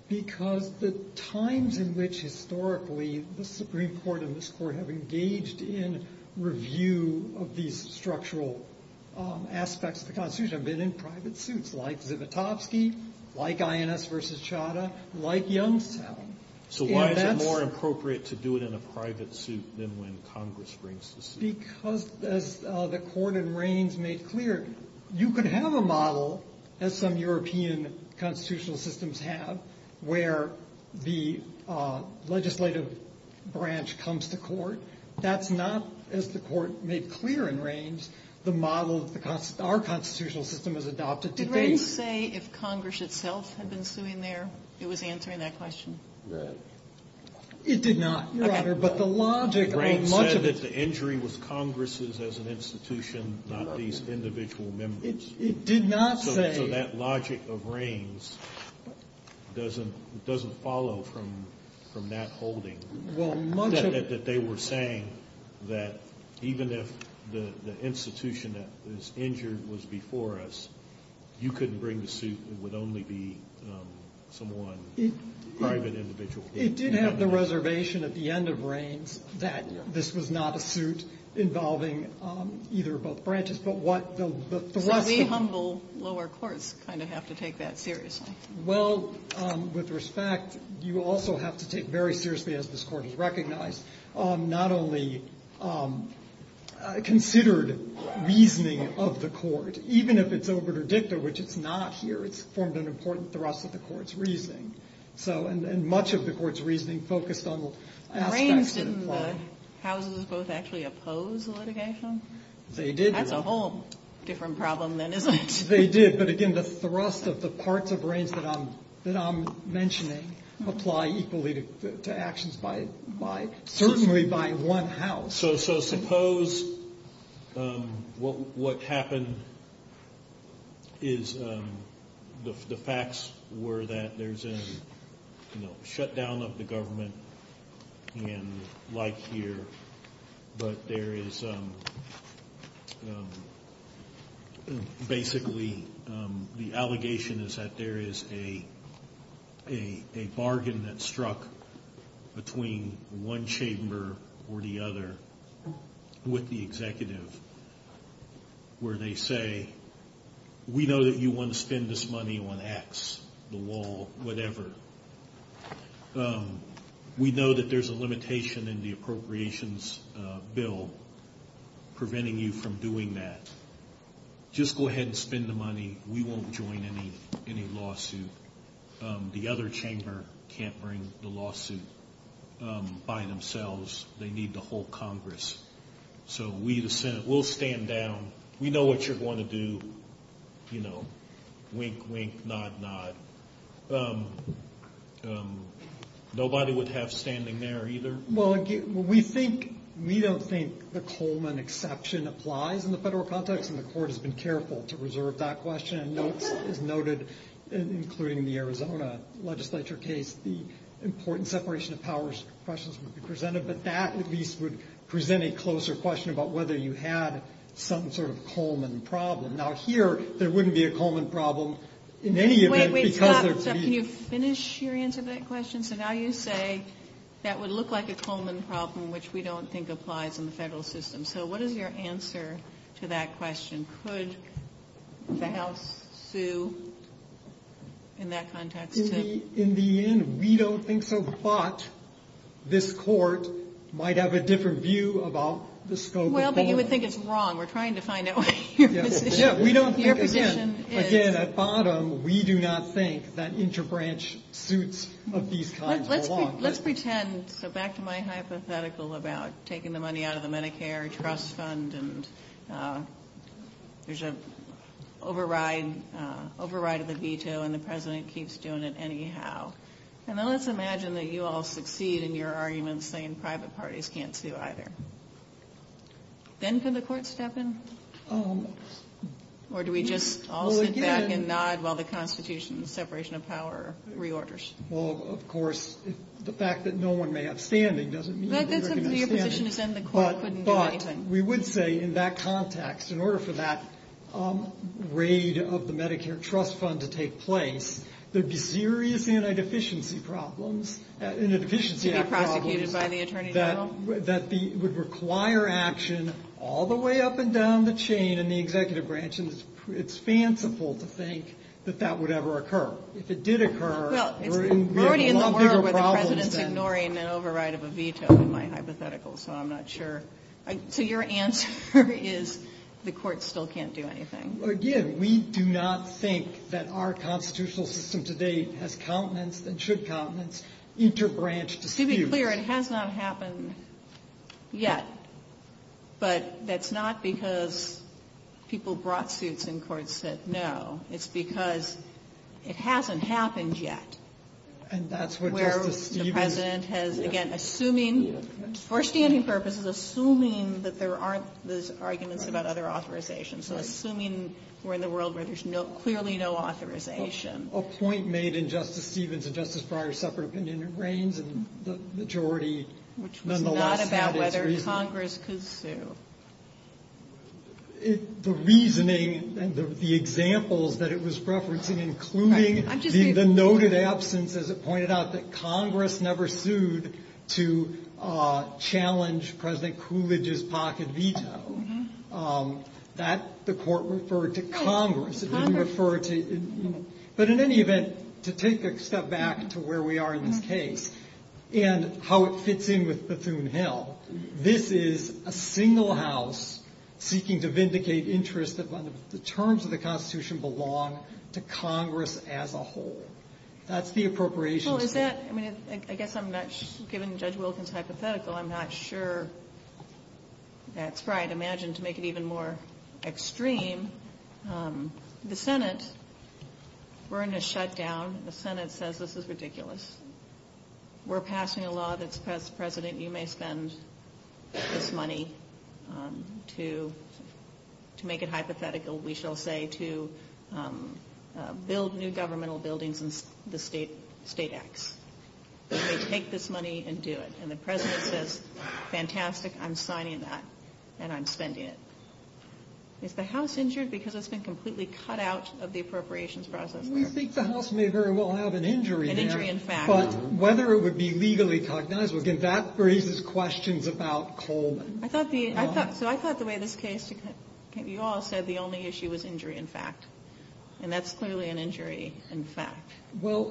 Because the times in which historically the Supreme Court and this Court have engaged in review of these structural aspects of the Constitution have been in private suits, like Vivotofsky, like INS v. Chadha, like Youngstown. So why is it more appropriate to do it in a private suit than when Congress brings the suit? Because, as the Court of Reigns made clear, you could have a model, as some European constitutional systems have, where the legislative branch comes to court. That's not, as the Court made clear in Reigns, the model our constitutional system has adopted. Did Reigns say if Congress itself had been suing there, it was answering that question? It did not, Your Honor. But the logic of much of it... Reigns said that the injury was Congress's as an institution, not these individual members. It did not say... So that logic of Reigns doesn't follow from that holding. Well, much of it... That they were saying that even if the institution that was injured was before us, you couldn't bring the suit. It would only be some one private individual. It did have the reservation at the end of Reigns that this was not a suit involving either of both branches, So we humble lower courts kind of have to take that seriously. Well, with respect, you also have to take very seriously, as this Court has recognized, not only considered reasoning of the Court, even if it's over to DICTA, which it's not here. It's formed an important thrust of the Court's reasoning. And much of the Court's reasoning focused on... Reigns, didn't the Houses of both actually oppose the litigation? They did. That's a whole different problem than it is. They did. But again, the thrust of the parts of Reigns that I'm mentioning apply equally to actions certainly by one House. So suppose what happened is the facts were that there's a shutdown of the government in light year, but there is, basically, the allegation is that there is a bargain that struck between one chamber or the other with the executive, where they say, we know that you want to spend this money on X, the wall, whatever. We know that there's a limitation in the appropriations bill preventing you from doing that. Just go ahead and spend the money. We won't join any lawsuit. The other chamber can't bring the lawsuit by themselves. They need the whole Congress. So we, the Senate, will stand down. We know what you're going to do. You know, wink, wink, nod, nod. Nobody would have standing there either. Well, we think, we don't think the Coleman exception applies in the federal context, and the court has been careful to reserve that question. It's noted, including the Arizona legislature case, the important separation of powers questions would be presented. But that, at least, would present a closer question about whether you had some sort of Coleman problem. Now, here, there wouldn't be a Coleman problem in any event. Can you finish your answer to that question? So now you say that would look like a Coleman problem, which we don't think applies in the federal system. So what is your answer to that question? Could the House sue in that context? In the end, we don't think so, but this court might have a different view about the scope of the issue. Well, but you would think it's wrong. We're trying to find out what your position is. Again, at bottom, we do not think that interbranch suits of these kinds are wrong. Let's pretend, so back to my hypothetical about taking the money out of the Medicare trust fund and there's an override of a veto, and the president keeps doing it anyhow. And then let's imagine that you all succeed in your argument, saying private parties can't sue either. Then can the court step in? Or do we just all sit back and nod while the Constitution, the separation of power reorders? Well, of course, the fact that no one may have standing doesn't mean that we're going to stand. But we would say in that context, in order for that raid of the Medicare trust fund to take place, there'd be serious anti-deficiency problems. Anti-deficiency problems that would require action all the way up and down the chain in the executive branch. It's fanciful to think that that would ever occur. If it did occur, we're in a lot bigger problems than... We're already in the world where the president's ignoring the override of a veto in my hypothetical, so I'm not sure. So your answer is the court still can't do anything. Again, we do not think that our constitutional system today has countenance and should countenance interbranch disputes. To be clear, it has not happened yet. But that's not because people brought suits and courts said no. It's because it hasn't happened yet. And that's what... Where the president has, again, assuming, for standing purposes, assuming that there aren't those arguments about other authorizations. So assuming we're in the world where there's clearly no authorization. A point made in Justice Stevens and Justice Breyer's separate opinion reigns in the majority. It's not about whether Congress could sue. The reasoning and the examples that it was referencing, including the noted absence, as it pointed out, that Congress never sued to challenge President Coolidge's pocket veto. The court referred to Congress. But in any event, to take a step back to where we are in this case and how it fits in with platoon hell, this is a single house seeking to vindicate interest that the terms of the Constitution belong to Congress as a whole. That's the appropriation. I guess I'm not giving Judge Wilkins hypothetical. I'm not sure. That's right. Imagine to make it even more extreme. The Senate, we're in a shutdown. The Senate says this is ridiculous. We're passing a law that says, President, you may spend this money to make it hypothetical, we shall say, to build new governmental buildings in the state. Take this money and do it. And the President says, fantastic, I'm signing that, and I'm spending it. Is the House injured because it's been completely cut out of the appropriations process? We think the House may very well have an injury there. An injury in fact. But whether it would be legally cognizable, again, that raises questions about Coleman. So I thought the way this case, you all said the only issue was injury in fact. And that's clearly an injury in fact. Well,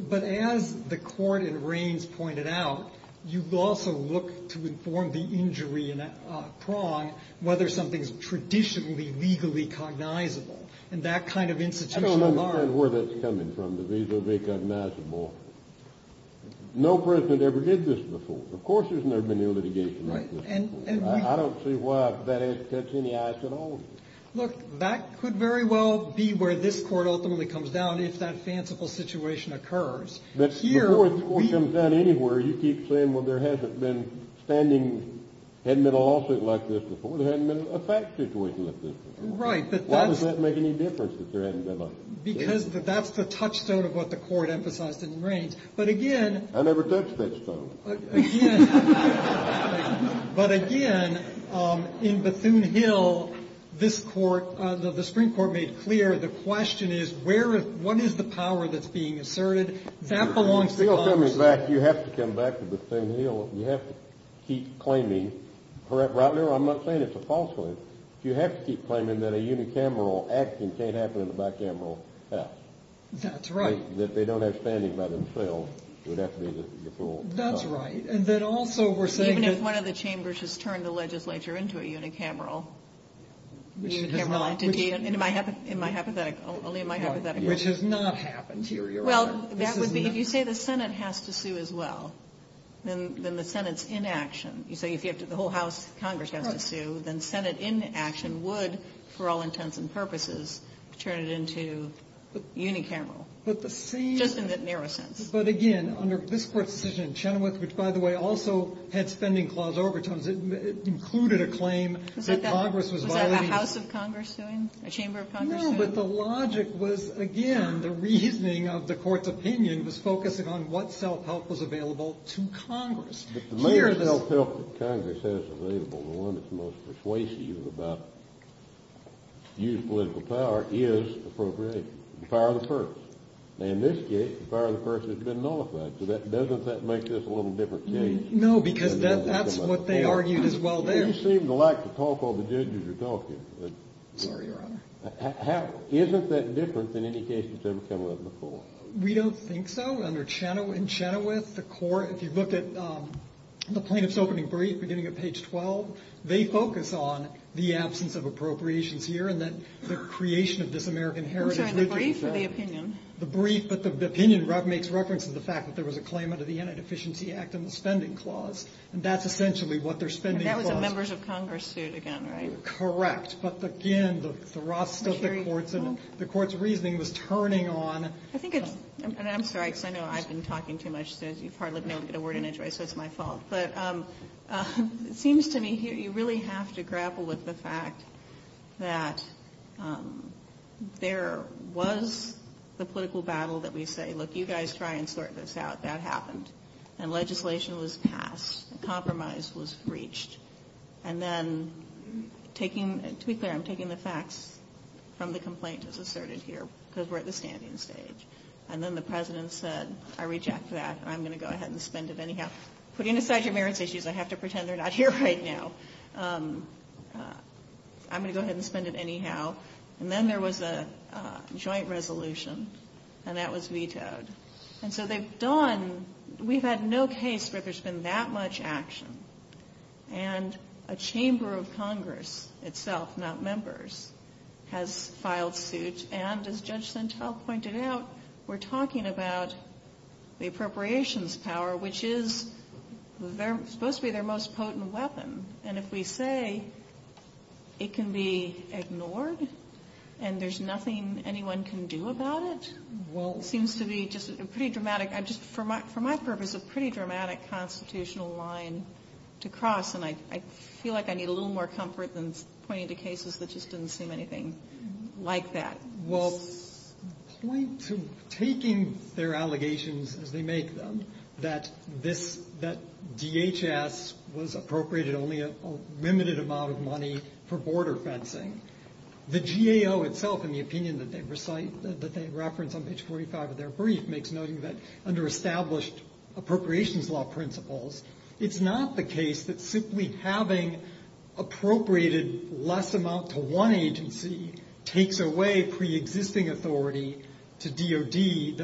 but as the court in Reins pointed out, you've also looked to inform the injury in that prong, whether something is traditionally legally cognizable. I don't understand where that's coming from, to be legally cognizable. No President ever did this before. Of course there's never been litigation like this before. I don't see why that sets any ice at all. Look, that could very well be where this court ultimately comes down, if that fanciful situation occurs. Before the court comes down anywhere, you keep saying, well, there hasn't been a lawsuit like this before. There hasn't been a fact situation like this before. Right. Why does that make any difference? Because that's the touchstone of what the court emphasized in Reins. But again, I never touched that stone. But again, in Bethune Hill, this court, the Supreme Court made clear, the question is, what is the power that's being asserted? You have to come back to Bethune Hill. You have to keep claiming. I'm not saying it's a falsehood. You have to keep claiming that a unicameral action can't happen in a bicameral house. That's right. That they don't have standing by themselves. That's right. And then also we're saying that... Even if one of the chambers has turned the legislature into a unicameral. Which has not. In my hypothetical, only in my hypothetical. Which has not happened here, Your Honor. Well, that would be, if you say the Senate has to sue as well, then the Senate's in action. You say if the whole House of Congress has to sue, then Senate in action would, for all intents and purposes, turn it into unicameral. But the same... Just in that narrow sense. But again, under this court's decision in Chenoweth, which, by the way, also had spending clause overtones, it included a claim that Congress was violating... Was that a House of Congress suing? A Chamber of Congress suing? No, but the logic was, again, the reasoning of the court's opinion was focusing on what self-help was available to Congress. But the major self-help that Congress has available, the one that's most persuasive about youth political power, is appropriation. The power of the first. And in this case, the power of the first has been nullified. So doesn't that make this a little different case? No, because that's what they argued as well there. You seem to like to talk all the judges are talking. Sorry, Your Honor. Isn't that different than any case that's ever come up before? We don't think so. Under Chenoweth, in Chenoweth, the court, if you look at the plaintiff's opening brief, beginning of page 12, they focus on the absence of appropriations here, and then the creation of dis-American heritage. Is that the brief or the opinion? The brief, but the opinion makes reference to the fact that there was a claim under the Anti-Deficiency Act and the Spending Clause. And that's essentially what they're spending... And that was a members of Congress suit again, right? Correct. But again, the court's reasoning was turning on... I think, and I'm sorry, because I know I've been talking too much, so it's partly my fault. But it seems to me here, you really have to grapple with the fact that there was the political battle that we say, look, you guys try and sort this out. That happened. And legislation was passed. Compromise was breached. And then taking... Tweet there, I'm taking the facts from the complaint that's asserted here, because we're at the standing stage. And then the president said, I reject that. I'm going to go ahead and spend it anyhow. Putting aside your marriage issues, I have to pretend they're not here right now. I'm going to go ahead and spend it anyhow. And then there was a joint resolution, and that was vetoed. And so they've done... We've had no case where there's been that much action. And a chamber of Congress itself, not members, has filed suits. And as Judge Santel pointed out, we're talking about the appropriations power, which is supposed to be their most potent weapon. And if we say it can be ignored, and there's nothing anyone can do about it, well, it seems to be just a pretty dramatic... to cross, and I feel like I need a little more comfort than pointing to cases that just didn't seem anything like that. Well, point to taking their allegations as they make them, that DHS was appropriated only a limited amount of money for border fencing. The GAO itself, in the opinion that they reference on page 45 of their brief, makes note that under established appropriations law principles, it's not the case that simply having appropriated less amount to one agency takes away pre-existing authority to DOD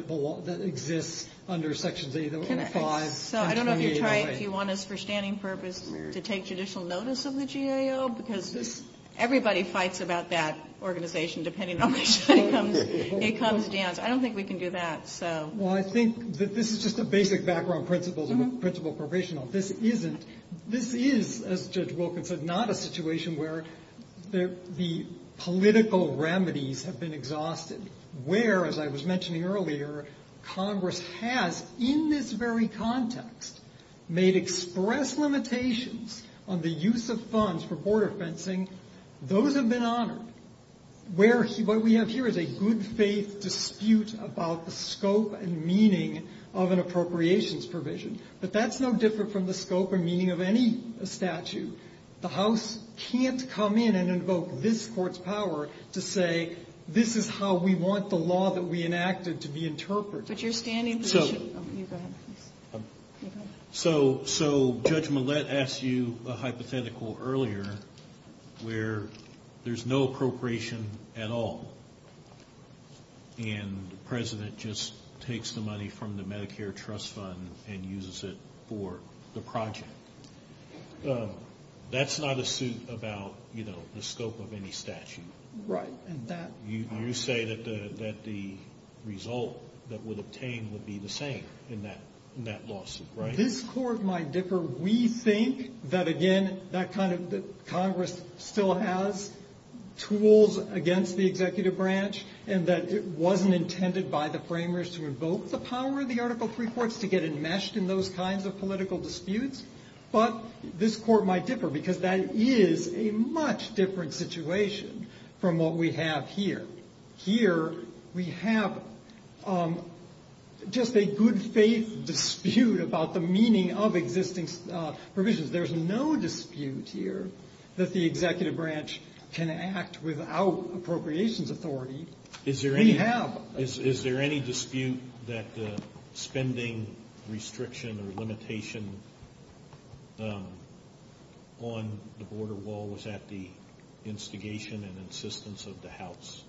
that exists under Section 805. So I don't know if you want us for standing purpose to take judicial notice of the GAO, because everybody fights about that organization depending on which way it comes down. I don't think we can do that. Well, I think that this is just a basic background principle of appropriation law. This is, as Judge Wilkins said, not a situation where the political remedies have been exhausted, where, as I was mentioning earlier, Congress has, in this very context, made express limitations on the use of funds for border fencing. Those have been honored. What we have here is a good-faith dispute about the scope and meaning of an appropriations provision. But that's no different from the scope and meaning of any statute. The House can't come in and invoke this Court's power to say, this is how we want the law that we enacted to be interpreted. But you're standing position... So Judge Millett asked you a hypothetical earlier where there's no appropriation at all, and the President just takes the money from the Medicare Trust Fund and uses it for the project. That's not a suit about the scope of any statute. Right. You say that the result that would obtain would be the same in that lawsuit, right? This Court might differ. We think that, again, that Congress still has tools against the executive branch and that it wasn't intended by the framers to invoke the power of the Article III courts to get enmeshed in those kinds of political disputes. But this Court might differ because that is a much different situation from what we have here. Here, we have just a good-faith dispute about the meaning of existing provisions. There's no dispute here that the executive branch can act without appropriations authority. We have. Is there any dispute that the spending restriction or limitation on the border wall was at the instigation and insistence of the House?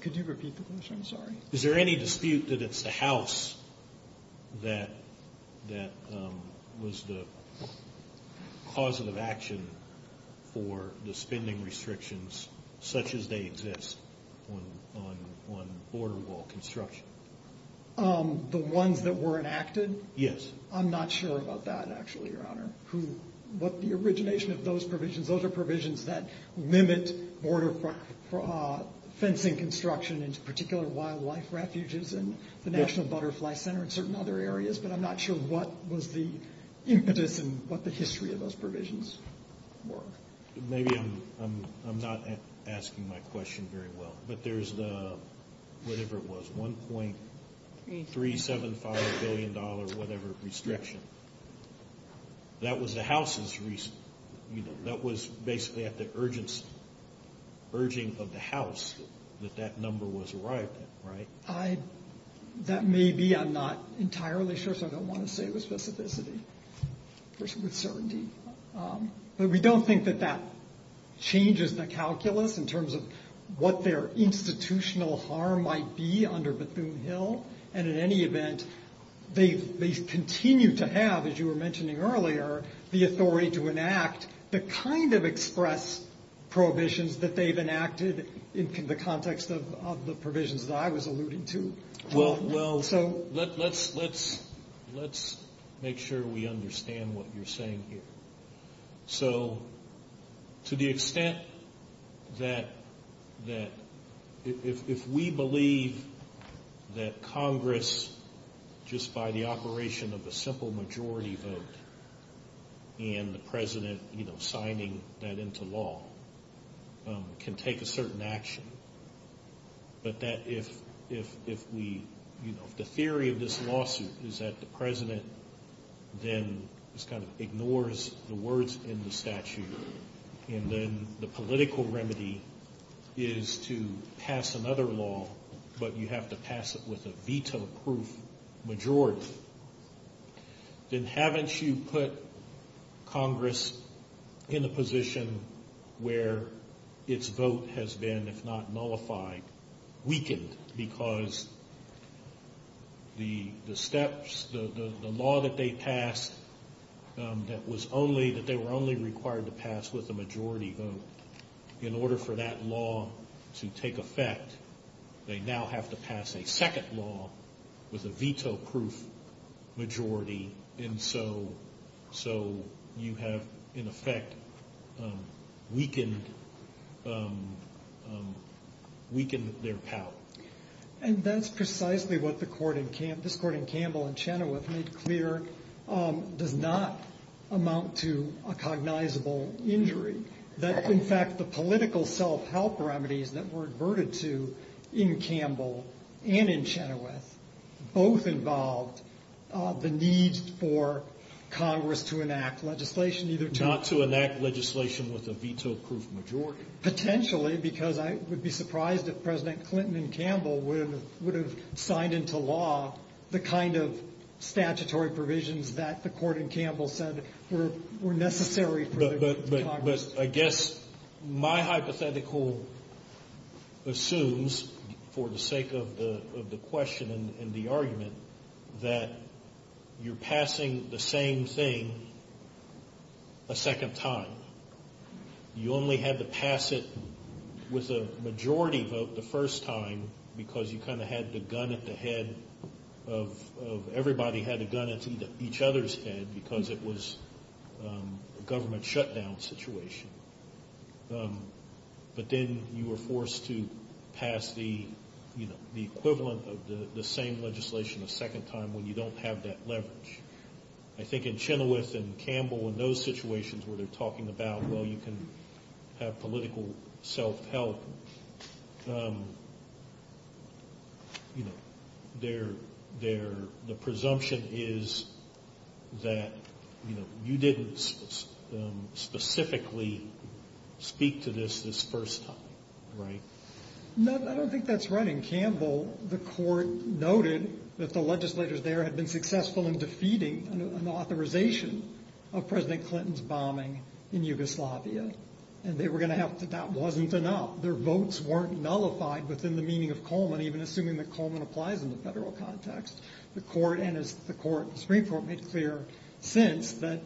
Could you repeat the question? Sorry. Is there any dispute that it's the House that was the cause of the action for the spending restrictions such as they exist on border wall construction? The ones that were enacted? Yes. I'm not sure about that, actually, Your Honor. The origination of those provisions, those are provisions that limit border fencing construction in particular wildlife refuges and the National Butterfly Center and certain other areas, but I'm not sure what was the impetus and what the history of those provisions were. Maybe I'm not asking my question very well, but there's the whatever it was, $1.375 billion whatever restriction. That was the House's restriction. That was basically at the urging of the House that that number was right, right? That may be. I'm not entirely sure, so I don't want to say with specificity. There's a good certainty. But we don't think that that changes the calculus in terms of what their institutional harm might be under Bethune Hill, and in any event, they continue to have, as you were mentioning earlier, the authority to enact the kind of express prohibitions that they've enacted in the context of the provisions that I was alluding to. Well, let's make sure we understand what you're saying here. So to the extent that if we believe that Congress, just by the operation of a simple majority vote and the president signing that into law, can take a certain action, but that if the theory of this lawsuit is that the president then just kind of ignores the words in the statute, and then the political remedy is to pass another law, but you have to pass it with a veto-proof majority, then haven't you put Congress in a position where its vote has been, if not nullified, weakened because the steps, the law that they passed, that they were only required to pass with a majority vote, in order for that law to take effect, they now have to pass a second law with a veto-proof majority, and so you have, in effect, weakened their power. And that's precisely what this court in Campbell and Chenoweth made clear does not amount to a cognizable injury. In fact, the political self-help remedies that were adverted to in Campbell and in Chenoweth both involved the need for Congress to enact legislation either to... Not to enact legislation with a veto-proof majority. Potentially, because I would be surprised if President Clinton and Campbell would have signed into law the kind of statutory provisions that the court in Campbell said were necessary for the Congress. But I guess my hypothetical assumes, for the sake of the question and the argument, that you're passing the same thing a second time. You only had to pass it with a majority vote the first time because you kind of had the gun at the head of... Everybody had a gun at each other's head because it was a government shutdown situation. But then you were forced to pass the equivalent of the same legislation a second time when you don't have that leverage. I think in Chenoweth and Campbell and those situations where they're talking about well, you can have political self-help... The presumption is that you didn't specifically speak to this this first time, right? No, I don't think that's right. In Campbell, the court noted that the legislators there had been successful in defeating an authorization of President Clinton's bombing in Yugoslavia. And they were going to have to... That wasn't enough. Their votes weren't nullified within the meaning of Coleman, even assuming that Coleman applies in the federal context. And as the Supreme Court makes clear, since that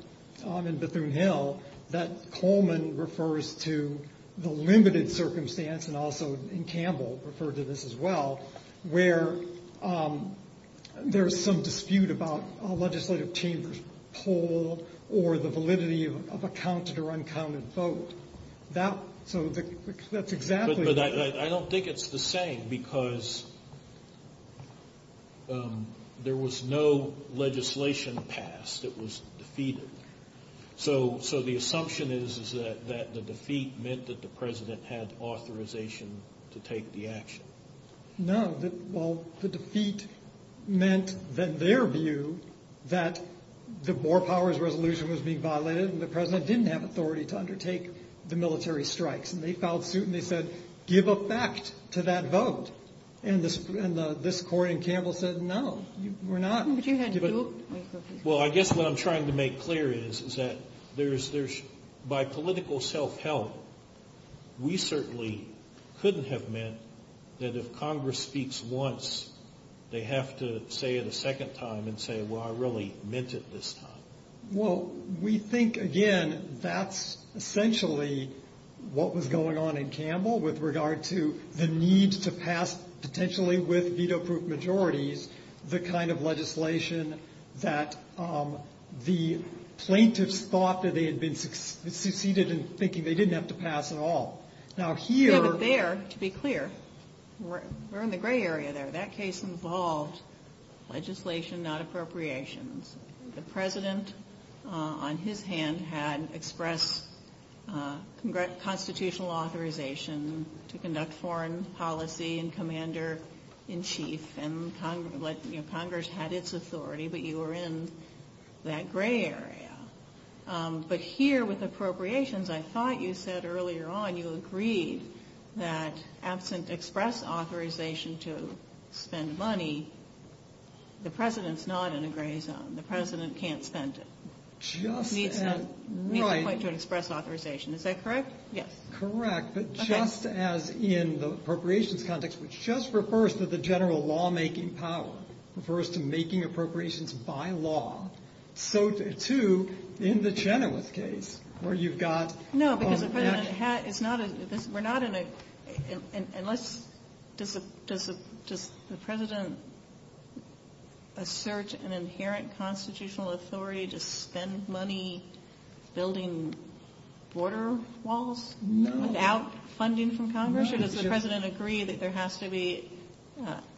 on in Bethune-Hill, that Coleman refers to the limited circumstance and also in Campbell referred to this as well, where there's some dispute about a legislative team's pull or the validity of a counted or uncounted vote. That's exactly... I don't think it's the same because there was no legislation passed that was defeated. So the assumption is that the defeat meant that the president had authorization to take the action. No, well, the defeat meant that their view that the War Powers Resolution was being violated and the president didn't have authority to undertake the military strikes. And they filed suit and they said, give effect to that vote. And this court in Campbell said, no, we're not. Well, I guess what I'm trying to make clear is that by political self-help, we certainly couldn't have meant that if Congress speaks once, they have to say it a second time and say, well, I really meant it this time. Well, we think, again, that's essentially what was going on in Campbell with regard to the need to pass, potentially with veto-proof majorities, the kind of legislation that the plaintiffs thought that they had succeeded in thinking they didn't have to pass at all. Now here... There, to be clear, we're in the gray area there. That case involved legislation, not appropriations. The president, on his hand, had expressed constitutional authorization to conduct foreign policy and commander-in-chief. And Congress had its authority, but you were in that gray area. But here, with appropriations, I thought you said earlier on, you agreed that absent express authorization to spend money, the president's not in a gray zone. The president can't spend it. He needs to point to an express authorization. Is that correct? Yes. Correct, but just as in the appropriations context, which just refers to the general lawmaking power, refers to making appropriations by law, so, too, in the Chenoweth case, where you've got... No, because the president had... We're not in a... Unless... Does the president assert an inherent constitutional authority to spend money building border walls without funding from Congress, or does the president agree that there has to be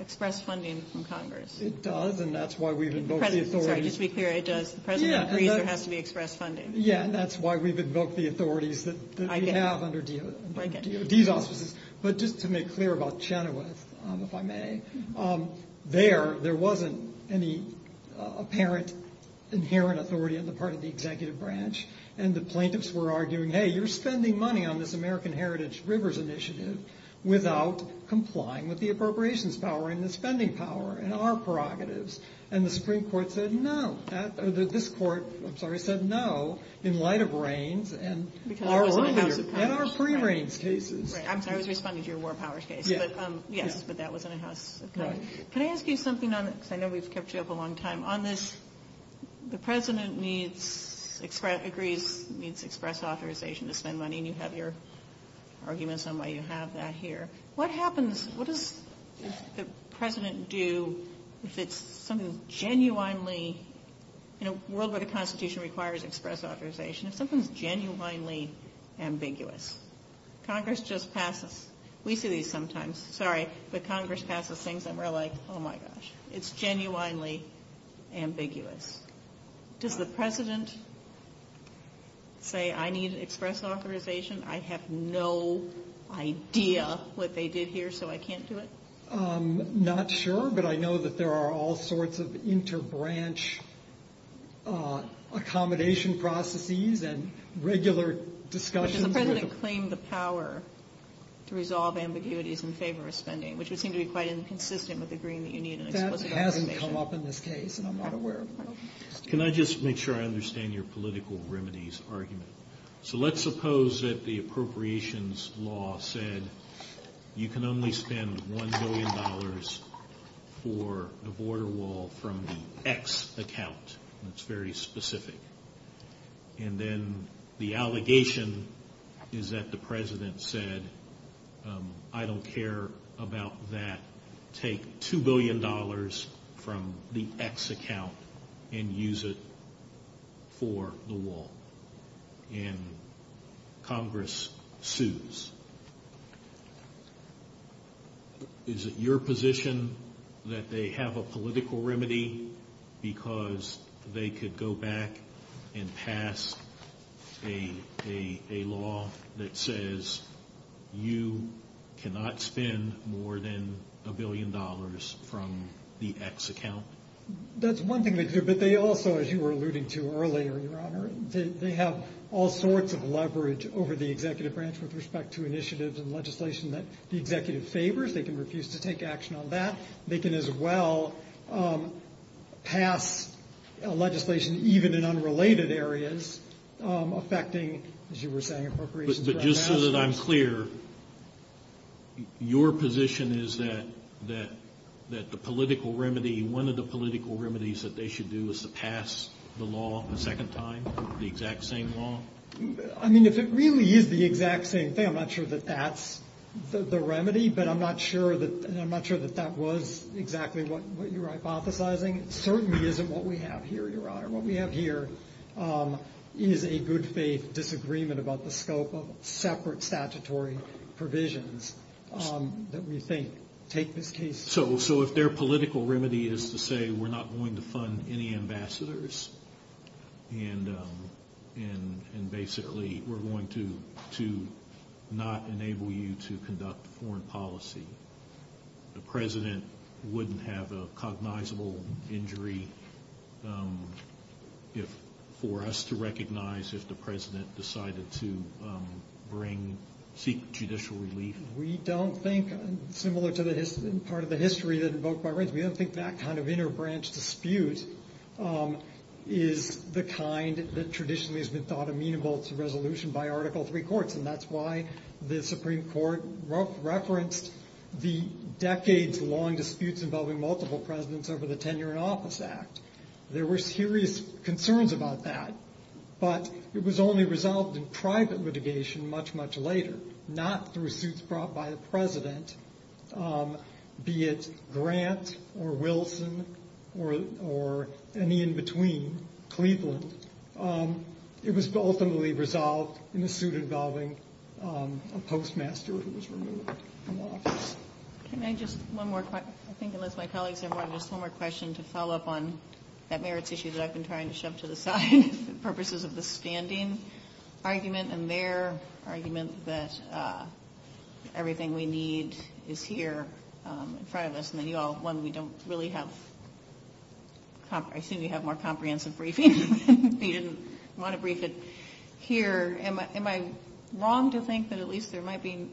express funding from Congress? It does, and that's why we've invoked the authority... Sorry, just to be clear, it does. The president agrees there has to be express funding. Yeah, and that's why we've invoked the authorities that we have under these offices. But just to make clear about Chenoweth, if I may, there, there wasn't any apparent inherent authority on the part of the executive branch, and the plaintiffs were arguing, hey, you're spending money on this American Heritage Rivers initiative without complying with the appropriations power and the spending power and our prerogatives, and the Supreme Court said no, or this court, I'm sorry, said no, in light of Raines and our lawmakers and our pre-Raines cases. I'm sorry to respond to your War Powers case, but yes, that was in the house. Can I ask you something? I know we've kept you up a long time. On this, the president needs, agrees, needs express authorization to spend money, and you have your arguments on why you have that here. What happens, what does the president do if it's something genuinely, in a world where the Constitution requires express authorization, if something's genuinely ambiguous? Congress just passes. We see these sometimes. Sorry, but Congress passes things, and we're like, oh my gosh. It's genuinely ambiguous. Does the president say, I need express authorization? I have no idea what they did here, so I can't do it? Not sure, but I know that there are all sorts of inter-branch accommodation processes and regular discussions. Does the president claim the power to resolve ambiguities in favor of spending, which would seem to be quite inconsistent with the agreement you need in the Constitution? That hasn't come up in this case, and I'm not aware of that. Can I just make sure I understand your political remedies argument? So let's suppose that the appropriations law said you can only spend $1 billion for a border wall from the X account. That's very specific. And then the allegation is that the president said, I don't care about that. Take $2 billion from the X account and use it for the wall. And Congress sues. Is it your position that they have a political remedy because they could go back and pass a law that says you cannot spend more than $1 billion from the X account? That's one thing, but they also, as you were alluding to earlier, Your Honor, they have all sorts of leverage over the executive branch with respect to initiatives and legislation that the executive favors. They can refuse to take action on that. They can as well pass legislation even in unrelated areas affecting, as you were saying, appropriations. But just so that I'm clear, your position is that the political remedy, one of the political remedies that they should do is to pass the law a second time, the exact same law? I mean, if it really is the exact same thing, I'm not sure that that's the remedy, but I'm not sure that that was exactly what you're hypothesizing. It certainly isn't what we have here, Your Honor. What we have here is a good faith disagreement about the scope of separate statutory provisions that we think take this case. So if their political remedy is to say we're not going to fund any ambassadors and basically we're going to not enable you to conduct foreign policy, the president wouldn't have a cognizable injury for us to recognize if the president decided to bring judicial relief. We don't think, similar to part of the history that invoked by race, we don't think that kind of inter-branch dispute is the kind that traditionally has been thought amenable to resolution by Article III courts, and that's why the Supreme Court referenced the decades-long disputes involving multiple presidents over the Tenure in Office Act. There were serious concerns about that, but it was only resolved in private litigation much, much later, not through suits brought by a president, be it Grant or Wilson or any in between, Cleveland. It was openly resolved in the suit involving a postmaster who was removed from office. Can I just, one more, I think it looks like colleagues have one more question to follow up on that merits issue that I've been trying to shove to the side for purposes of the standing argument and their argument that everything we need is here in front of us, and you all, one, we don't really have, I assume you have more comprehensive briefing. You didn't want to brief it here. Am I wrong to think that at least there might be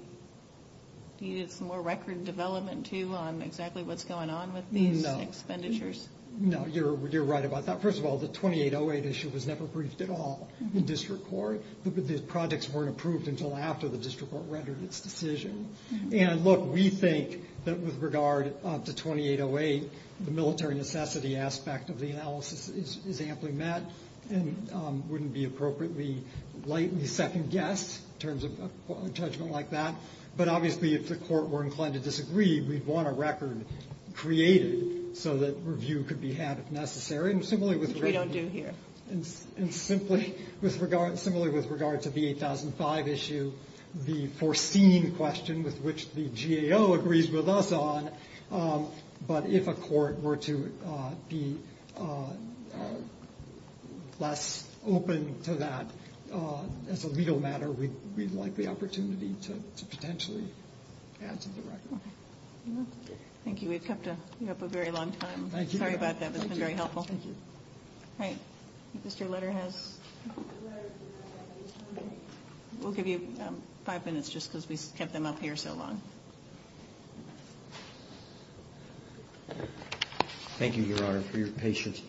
needed some more record development, too, on exactly what's going on with these expenditures? No, you're right about that. First of all, the 2808 issue was never briefed at all in district court. The projects weren't approved until after the district court rendered its decision, and look, we think that with regard to 2808, the military necessity aspect of the analysis is amply met and wouldn't be appropriately lightly second-guessed in terms of a judgment like that, but obviously if the court were inclined to disagree, we'd want a record created so that review could be had if necessary, and similarly with regard to the 8005 issue, the foreseen question with which the GAO agrees with us on, but if a court were to be less open to that, as a legal matter, we'd like the opportunity to potentially pass the record. Thank you. We've kept you up a very long time. Sorry about that. It's been very helpful. Thank you. Great. Is this your letterhead? We'll give you five minutes just because we've kept them up here so long. Thank you, Your Honor, for your patience.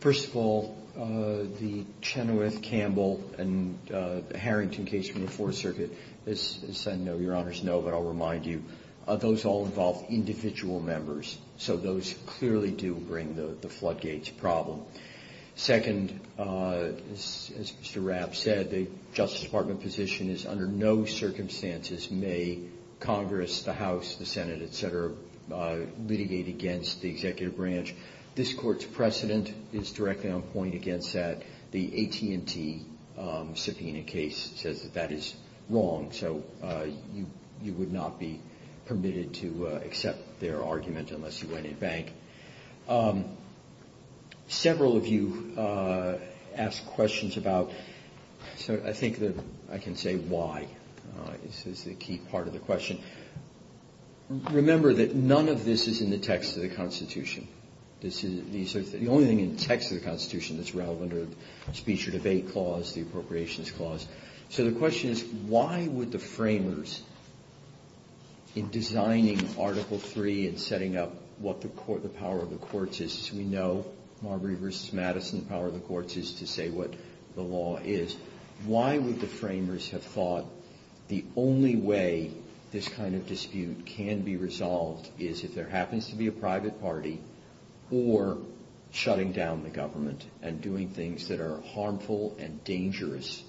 First of all, the Chenoweth-Campbell and the Harrington case from the Fourth Circuit, as I know Your Honors know, but I'll remind you, those all involve individual members, so those clearly do bring the floodgates problem. Second, as Mr. Rapp said, the Justice Department position is under no circumstances may Congress, the House, the Senate, et cetera, litigate against the executive branch. This Court's precedent is directly on point against that. The AT&T subpoena case says that that is wrong, so you would not be permitted to accept their argument unless you went in bank. Several of you asked questions about, so I think that I can say why. This is the key part of the question. Remember that none of this is in the text of the Constitution. The only thing in the text of the Constitution that's relevant are the Speech or Debate Clause, the Appropriations Clause. So the question is, why would the framers, in designing Article III and setting up what the power of the courts is, we know Marbury v. Madison, the power of the courts is to say what the law is, why would the framers have thought the only way this kind of dispute can be resolved is if there happens to be a private party or shutting down the government and doing things that are harmful and dangerous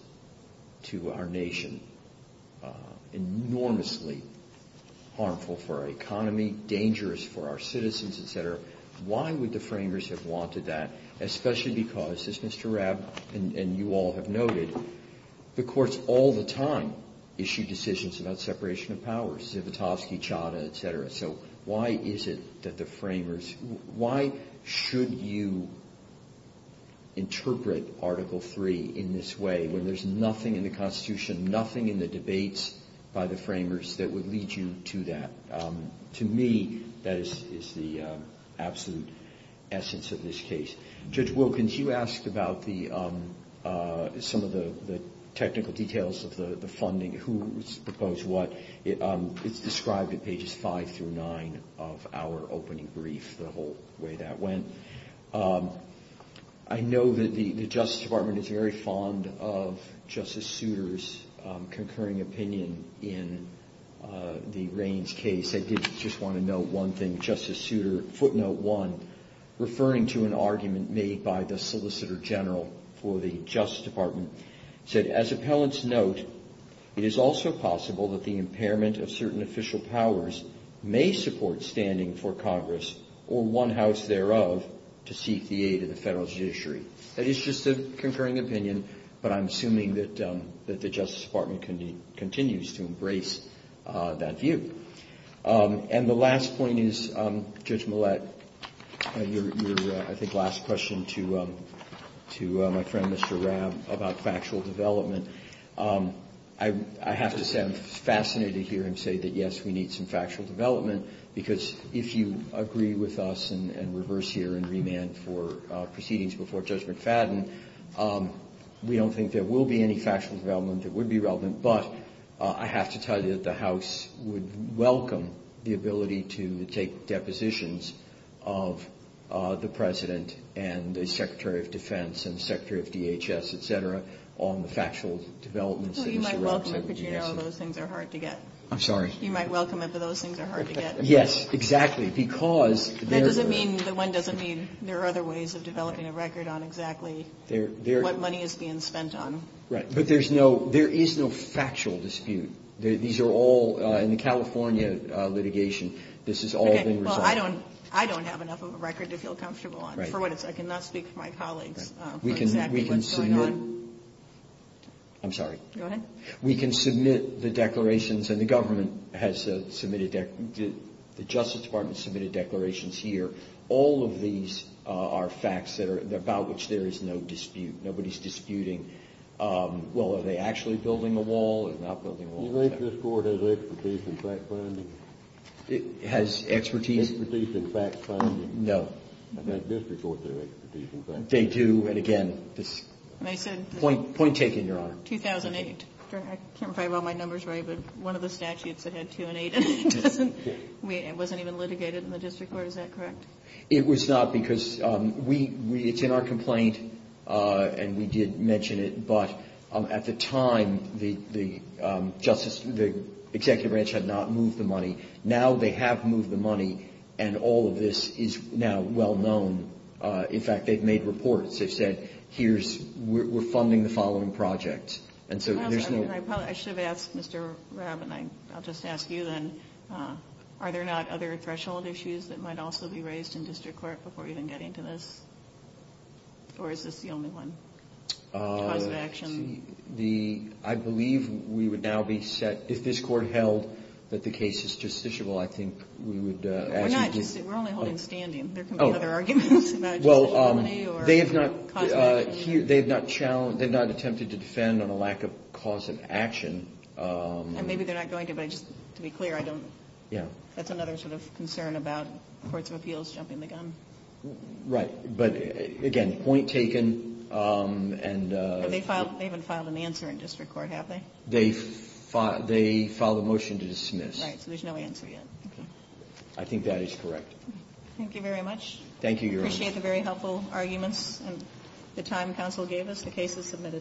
to our nation, enormously harmful for our economy, dangerous for our citizens, et cetera. Why would the framers have wanted that, especially because, as Mr. Rabb and you all have noted, the courts all the time issue decisions about separation of powers, Zivotofsky, Chadha, et cetera. So why is it that the framers, why should you interpret Article III in this way when there's nothing in the Constitution, nothing in the debates by the framers that would lead you to that? To me, that is the absolute essence of this case. Judge Wilkins, you asked about some of the technical details of the funding, who was proposed what. It's described at pages 5 through 9 of our opening brief, the whole way that went. I know that the Justice Department is very fond of Justice Souter's concurring opinion in the Raines case. I did just want to note one thing. Justice Souter, footnote 1, referring to an argument made by the Solicitor General for the Justice Department, said, as appellants note, it is also possible that the impairment of certain official powers may support standing for Congress, or one house thereof, to seek the aid of the federal judiciary. That is just a concurring opinion, but I'm assuming that the Justice Department continues to embrace that view. And the last point is, Judge Millett, your, I think, last question to my friend, Mr. Rabb, about factual development. I have to say I'm fascinated to hear him say that, yes, we need some factual development, because if you agree with us and reverse here and remand for proceedings before Judge McFadden, we don't think there will be any factual development that would be relevant, but I have to tell you that the House would welcome the ability to take depositions of the President and the Secretary of Defense and the Secretary of DHS, etc., on factual developments. So you might welcome it, but you know those things are hard to get. I'm sorry? You might welcome it, but those things are hard to get. Yes, exactly, because... That doesn't mean, the one doesn't mean there are other ways of developing a record on exactly what money is being spent on. Right, but there is no factual dispute. These are all, in the California litigation, this has all been resolved. Well, I don't have enough of a record to feel comfortable on. For what it's worth, I cannot speak to my colleagues about what's going on. We can submit... I'm sorry. Go ahead. We can submit the declarations, and the government has submitted, the Justice Department submitted declarations here. All of these are facts about which there is no dispute. Nobody's disputing, well, are they actually building a wall or not building a wall? Does this court have expertise in fact finding? It has expertise? Expertise in fact finding? No. Does this court have expertise in fact finding? They do, and again... Mason? Point taken, Your Honor. 2008. Correct. I can't remember all my numbers right, but one of the statutes that had two and eight in it. It wasn't even litigated in the district court. Was that correct? It was not, because it's in our complaint, and we did mention it, but at the time, the executive branch had not moved the money. Now they have moved the money, and all of this is now well known. In fact, they've made reports. They've said, we're funding the following projects. I should ask Mr. Rabb, and I'll just ask you then, are there not other threshold issues that might also be raised in district court before we even get into this? Or is this the only one? Cause of action? I believe we would now be set, if this court held that the case is justiciable, I think we would... We're not justiciable. We're only holding standing. There can be other arguments. Well, they've not attempted to defend on a lack of cause of action. Maybe they're not going to, but just to be clear, that's another concern about courts of appeals jumping the gun. Right. But again, point taken. They haven't filed an answer in district court, have they? They filed a motion to dismiss. So there's no answer yet. I think that is correct. Thank you very much. Thank you. I appreciate the very helpful arguments and the time counsel gave us. The case is committed. Thank you.